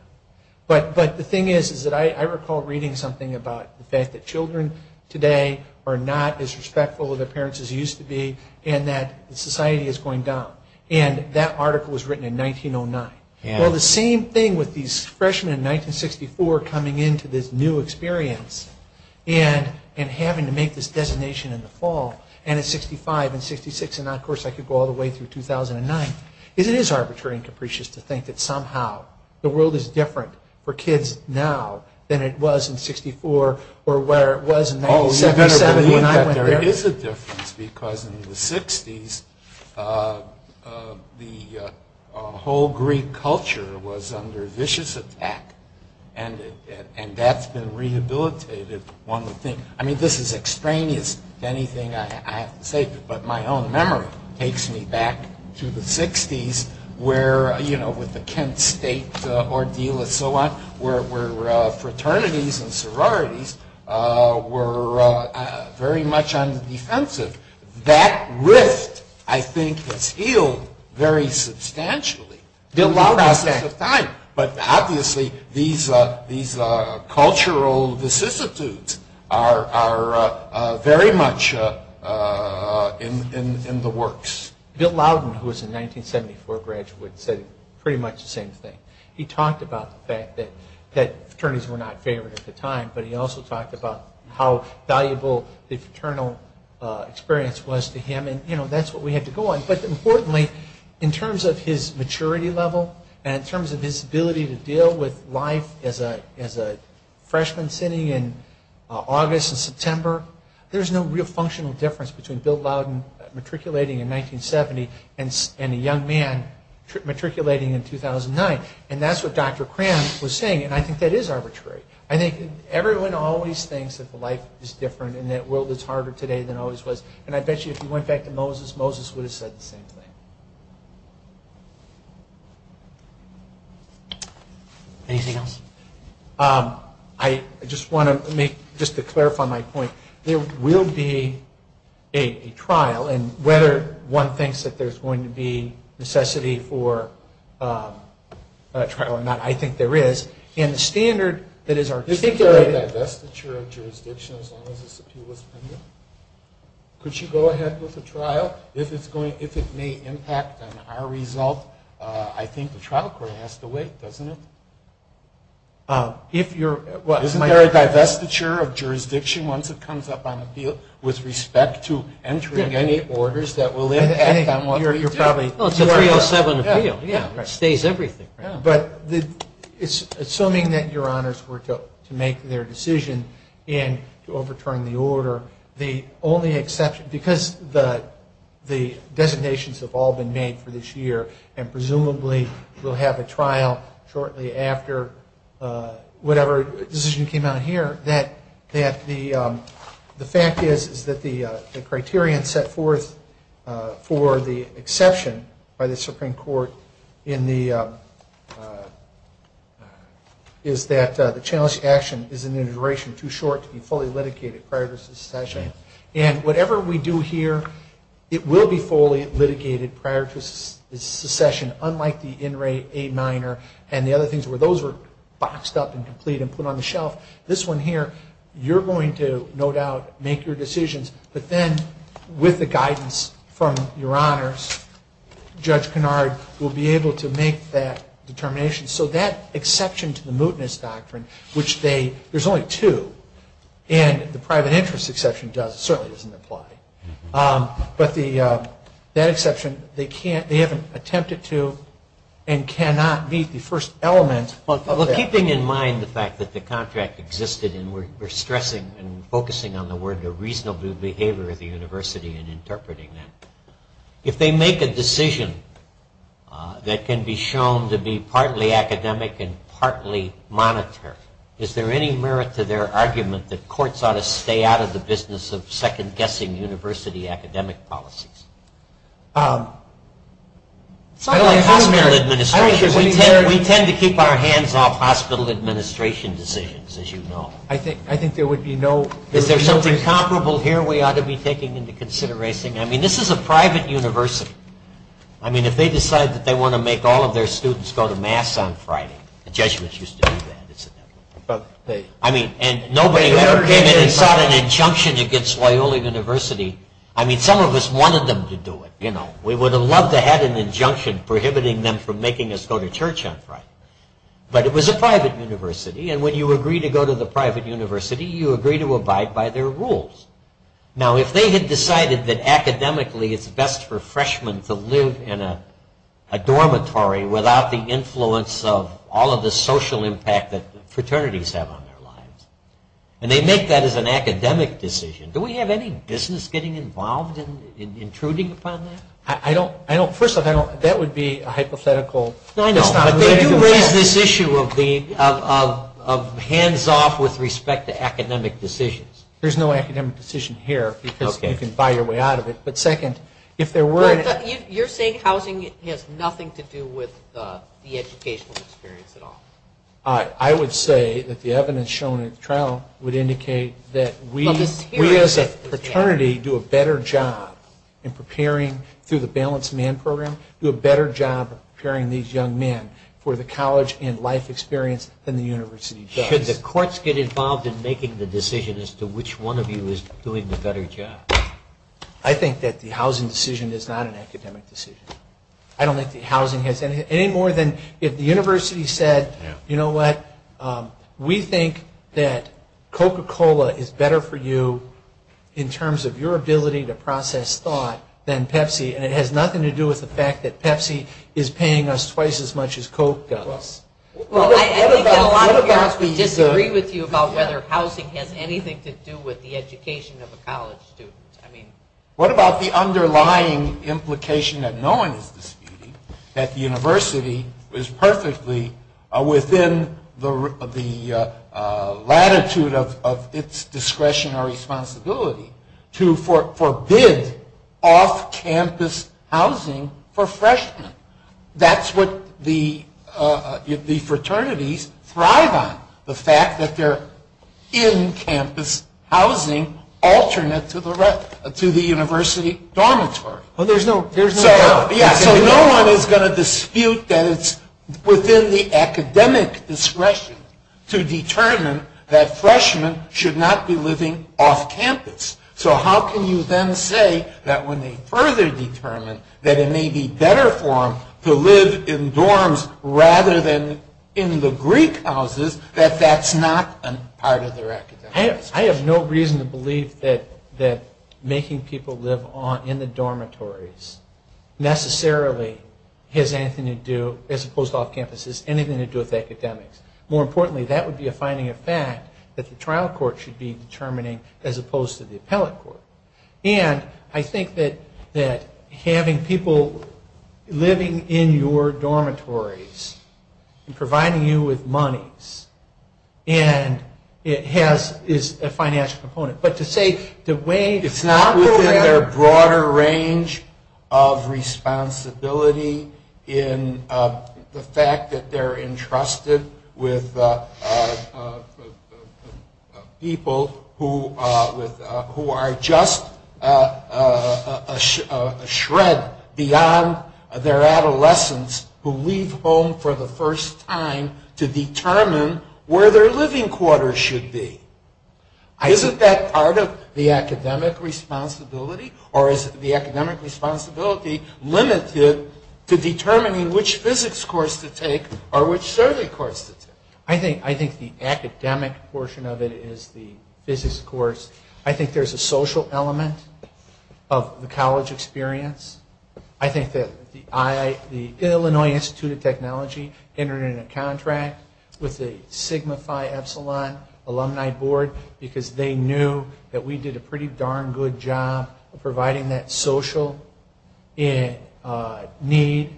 But the thing is that I recall reading something about the fact that children today are not as respectful of their parents as they used to be and that society is going down, and that article was written in 1909. Well, the same thing with these freshmen in 1964 coming into this new experience and having to make this destination in the fall, and in 65 and 66, and of course, I could go all the way through 2009. It is arbitrary and capricious to think that somehow the world is different for kids now than it was in 64 or where it was in 1967 when I went there. Well, there is a difference because in the 60s, the whole Greek culture was under vicious attack, and that's been rehabilitated. I mean, this is extraneous, anything I say, but my own memory takes me back to the 60s where, you know, with the Kent State ordeal and so on, where fraternities and sororities were very much on the defensive. That rift, I think, was healed very substantially. But obviously, these cultural vicissitudes are very much in the works. Bill Loudon, who was a 1974 graduate, said pretty much the same thing. He talked about the fact that fraternities were not favored at the time, but he also talked about how valuable the fraternal experience was to him, and, you know, that's what we had to go on. But importantly, in terms of his maturity level and in terms of his ability to deal with life as a freshman sitting in August and September, there's no real functional difference between Bill Loudon matriculating in 1970 and a young man matriculating in 2009, and that's what Dr. Krams was saying, and I think that is arbitrary. I think everyone always thinks that life is different and that the world is harder today than it always was, and I bet you if you went back to Moses, Moses would have said the same thing. Anything else? I just want to make, just to clarify my point, there will be a trial, and whether one thinks that there's going to be necessity for a trial or not, I think there is. And the standard that is articulated- Could you go ahead with the trial? If it may impact on our result, I think the trial court has to wait, doesn't it? Isn't there a divestiture of jurisdiction once it comes up on the field with respect to entering any orders that will impact on one? Well, it's a 307 appeal. It stays everything. But assuming that your honors were to make their decision in overturning the order, the only exception, because the designations have all been made for this year, and presumably we'll have a trial shortly after whatever decision came out of here, that the fact is that the criterion set forth for the exception by the Supreme Court is that the challenge to action is in the duration too short to be fully litigated prior to secession. And whatever we do here, it will be fully litigated prior to secession, unlike the in re a minor and the other things where those were boxed up and completed and put on the shelf. This one here, you're going to, no doubt, make your decisions, but then with the guidance from your honors, Judge Kennard will be able to make that determination. So that exception to the mootness doctrine, which there's only two, and the private interest exception does certainly isn't applied. But that exception, they haven't attempted to and cannot meet the first element. Well, keeping in mind the fact that the contract existed and we're stressing and focusing on the word the reasonable behavior of the university and interpreting it, if they make a decision that can be shown to be partly academic and partly monetary, is there any merit to their argument that courts ought to stay out of the business of second-guessing university academic policies? We tend to keep our hands off hospital administration decisions, as you know. I think there would be no... Is there something comparable here we ought to be taking into consideration? I mean, this is a private university. I mean, if they decide that they want to make all of their students go to mass on Friday, the Jesuits used to do that, and nobody ever gave any sort of injunction against Wyoling University, I mean, some of us wanted them to do it. We would have loved to have an injunction prohibiting them from making us go to church on Friday. But it was a private university, and when you agree to go to the private university, you agree to abide by their rules. Now, if they had decided that academically it's best for freshmen to live in a dormitory without the influence of all of the social impact that fraternities have on their lives, and they make that as an academic decision, do we have any business getting involved in intruding upon that? I don't... First of all, that would be a hypothetical... No, no. You raise this issue of hands-off with respect to academic decisions. There's no academic decision here, because you can buy your way out of it. But second, if there were... You're saying housing has nothing to do with the educational experience at all? I would say that the evidence shown in the trial would indicate that we... We as a fraternity do a better job in preparing, through the Balanced Man Program, do a better job of preparing these young men for the college and life experience than the university does. Should the courts get involved in making the decision as to which one of you is doing the better job? I think that the housing decision is not an academic decision. I don't think that housing has anything... Any more than if the university said, You know what? We think that Coca-Cola is better for you in terms of your ability to process thought than Pepsi, and it has nothing to do with the fact that Pepsi is paying us twice as much as Coke does. Well, I think that a lot of people disagree with you about whether housing has anything to do with the education of a college student. What about the underlying implication that no one disagrees, that the university is perfectly within the latitude of its discretionary responsibility to forbid off-campus housing for freshmen? That's what the fraternities thrive on, the fact that they're in-campus housing alternate to the university dormitory. So no one is going to dispute that it's within the academic discretion to determine that freshmen should not be living off-campus. So how can you then say that when they further determine that it may be better for them to live in dorms rather than in the Greek houses, that that's not a part of their academics? I have no reason to believe that making people live in the dormitories necessarily has anything to do, as opposed to off-campus, has anything to do with academics. More importantly, that would be a finding of fact that the trial court should be determining, as opposed to the appellate court. And I think that having people living in your dormitories and providing you with money is a financial component. But to say the way... It's not within their broader range of responsibility in the fact that they're entrusted with people who are just a shred beyond their adolescence, who leave home for the first time to determine where their living quarters should be. Isn't that part of the academic responsibility? Or is the academic responsibility limited to determining which physics course to take or which survey course to take? I think the academic portion of it is the physics course. I think there's a social element of the college experience. I think that the Illinois Institute of Technology entered in a contract with the Sigma Phi Epsilon alumni board because they knew that we did a pretty darn good job of providing that social need.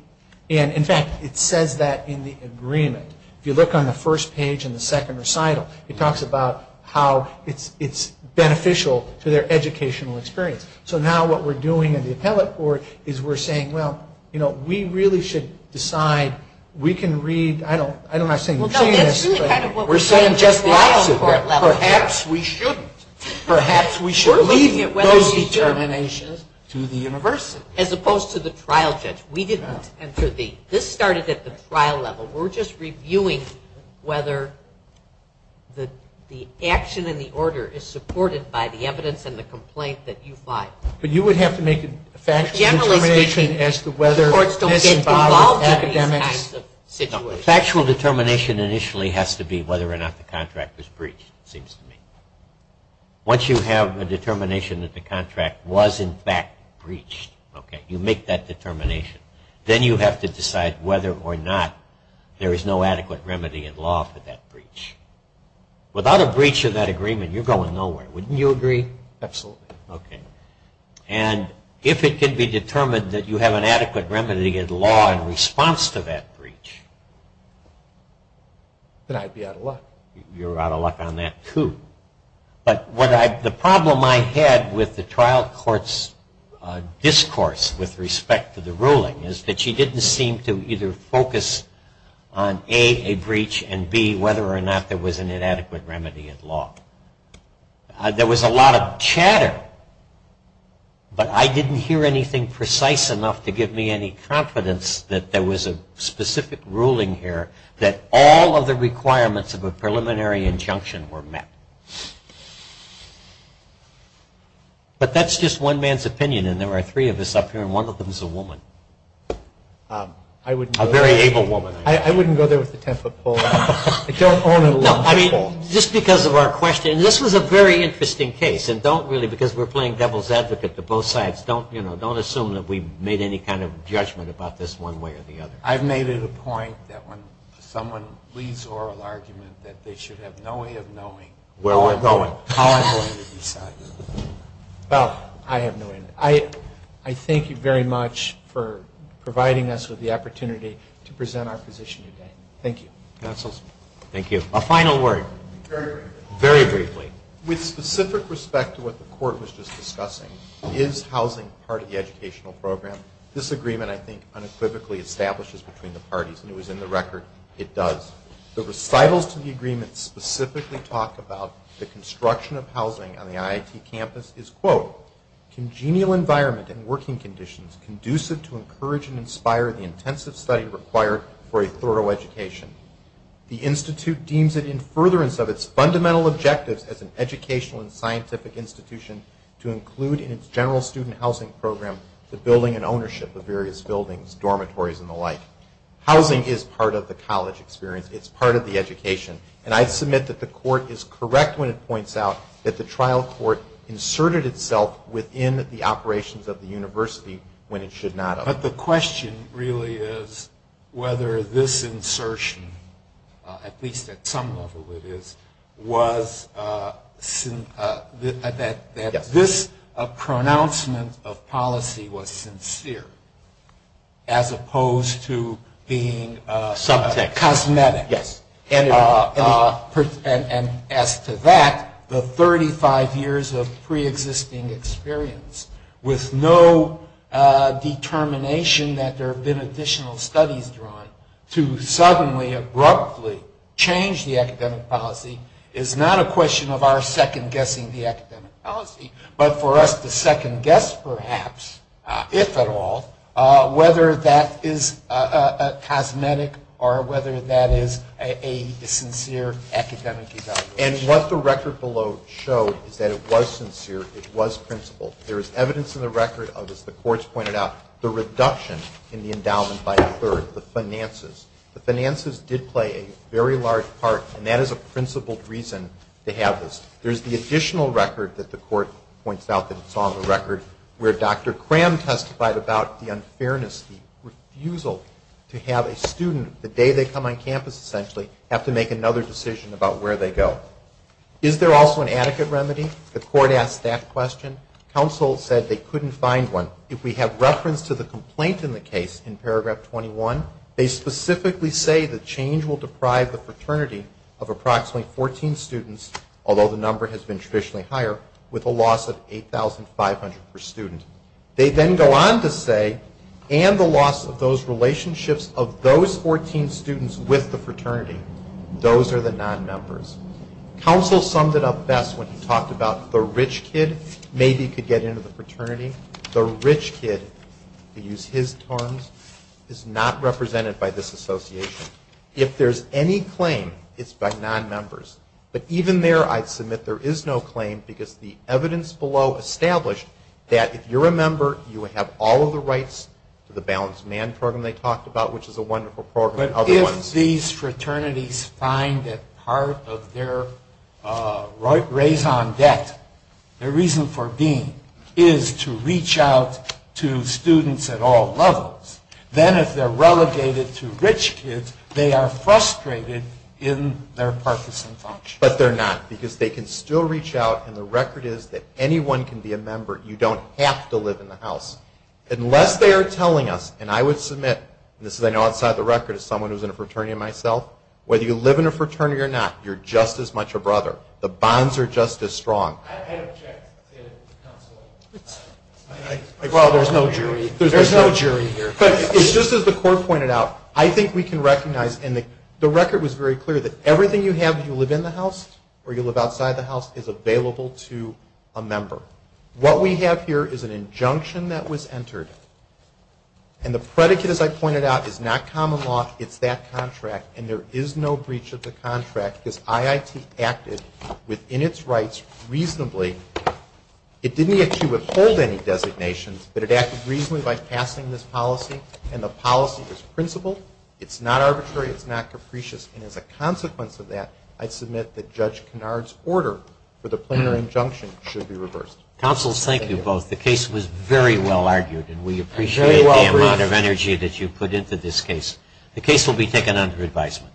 In fact, it says that in the agreement. If you look on the first page in the second recital, it talks about how it's beneficial to their educational experience. So now what we're doing in the appellate court is we're saying, we really should decide we can read... Perhaps we shouldn't. Perhaps we should leave those determinations to the university. As opposed to the trial judge. This started at the trial level. We're just reviewing whether the action in the order is supported by the evidence and the complaints that you filed. But you would have to make a factual determination as to whether... Courts don't get involved in these kinds of situations. The factual determination initially has to be whether or not the contract was breached, it seems to me. Once you have a determination that the contract was in fact breached, you make that determination. Then you have to decide whether or not there is no adequate remedy in law for that breach. Without a breach of that agreement, you're going nowhere. Wouldn't you agree? Absolutely. If it can be determined that you have an adequate remedy in law in response to that breach... Then I'd be out of luck. You're out of luck on that, too. But the problem I've had with the trial court's discourse with respect to the ruling is that she didn't seem to either focus on A, a breach, and B, whether or not there was an inadequate remedy in law. There was a lot of chatter, but I didn't hear anything precise enough to give me any confidence that there was a specific ruling here that all of the requirements of a preliminary injunction were met. But that's just one man's opinion, and there are three of us up here, and one of them is a woman. A very able woman. I wouldn't go there with a ten-foot pole. It's our own little ten-foot pole. Just because of our question, this was a very interesting case, and don't really, because we're playing devil's advocate to both sides, don't assume that we've made any kind of judgment about this one way or the other. I've made it a point that when someone leaves oral argument that they should have no way of knowing where we're going. Well, I have no idea. I thank you very much for providing us with the opportunity to present our position today. Thank you. A final word. Very briefly. Very briefly. With specific respect to what the court was just discussing, is housing part of the educational program? This agreement, I think, unequivocally establishes between the parties, and it was in the record, it does. The recitals of the agreement specifically talk about the construction of housing on the IIT campus is, quote, congenial environment and working conditions conducive to encourage and inspire the intensive study required for a thorough education. The institute deems it in furtherance of its fundamental objective as an educational and scientific institution to include in its general student housing program the building and ownership of various buildings, dormitories, and the like. Housing is part of the college experience. It's part of the education. And I submit that the court is correct when it points out that the trial court inserted itself within the operations of the university when it should not have. But the question really is whether this insertion, at least at some level it is, was that this pronouncement of policy was sincere, as opposed to being cosmetic. And as to that, the 35 years of preexisting experience, with no determination that there have been additional studies drawn, to suddenly abruptly change the academic policy is not a question of our second-guessing the academic policy, but for us to second-guess perhaps, if at all, whether that is cosmetic or whether that is a sincere academic evaluation. And what the record below showed is that it was sincere. It was principled. There is evidence in the record of, as the courts pointed out, the reduction in the endowment by a third, the finances. The finances did play a very large part, and that is a principled reason to have this. There is the additional record that the court points out that is on the record, where Dr. Cram testified about the unfairness, the refusal to have a student, the day they come on campus essentially, have to make another decision about where they go. Is there also an adequate remedy? The court asked that question. Counsel said they couldn't find one. So if we have reference to the complaint in the case in paragraph 21, they specifically say the change will deprive the fraternity of approximately 14 students, although the number has been traditionally higher, with a loss of 8,500 per student. They then go on to say, and the loss of those relationships of those 14 students with the fraternity, those are the non-members. Counsel summed it up best when he talked about the rich kid maybe could get into the fraternity. The rich kid, to use his terms, is not represented by this association. If there's any claim, it's by non-members. But even there, I submit there is no claim because the evidence below established that if you're a member, you would have all of the rights to the balanced man program they talked about, which is a wonderful program. But if these fraternities find that part of their raison d'etre, their reason for being, is to reach out to students at all levels, then if they're relegated to rich kids, they are frustrated in their partisan function. But they're not because they can still reach out, and the record is that anyone can be a member. You don't have to live in the house. Unless they are telling us, and I would submit, and this is I know outside the record as someone who's in a fraternity myself, whether you live in a fraternity or not, you're just as much a brother. The bonds are just as strong. I object. Well, there's no jury. There's no jury here. It's just as the court pointed out, I think we can recognize, and the record was very clear that everything you have if you live in the house or you live outside the house is available to a member. What we have here is an injunction that was entered, and the predicate, as I pointed out, is not common law. It's that contract, and there is no breach of the contract because IIT acted within its rights reasonably. It didn't actually withhold any designations, but it acted reasonably by passing this policy, and the policy is principled. It's not arbitrary. It's not capricious, and as a consequence of that, I submit that Judge Kennard's order for the plenary injunction should be reversed. Counsel, thank you both. The case was very well argued, and we appreciate the amount of energy that you put into this case. The case will be taken under advisement.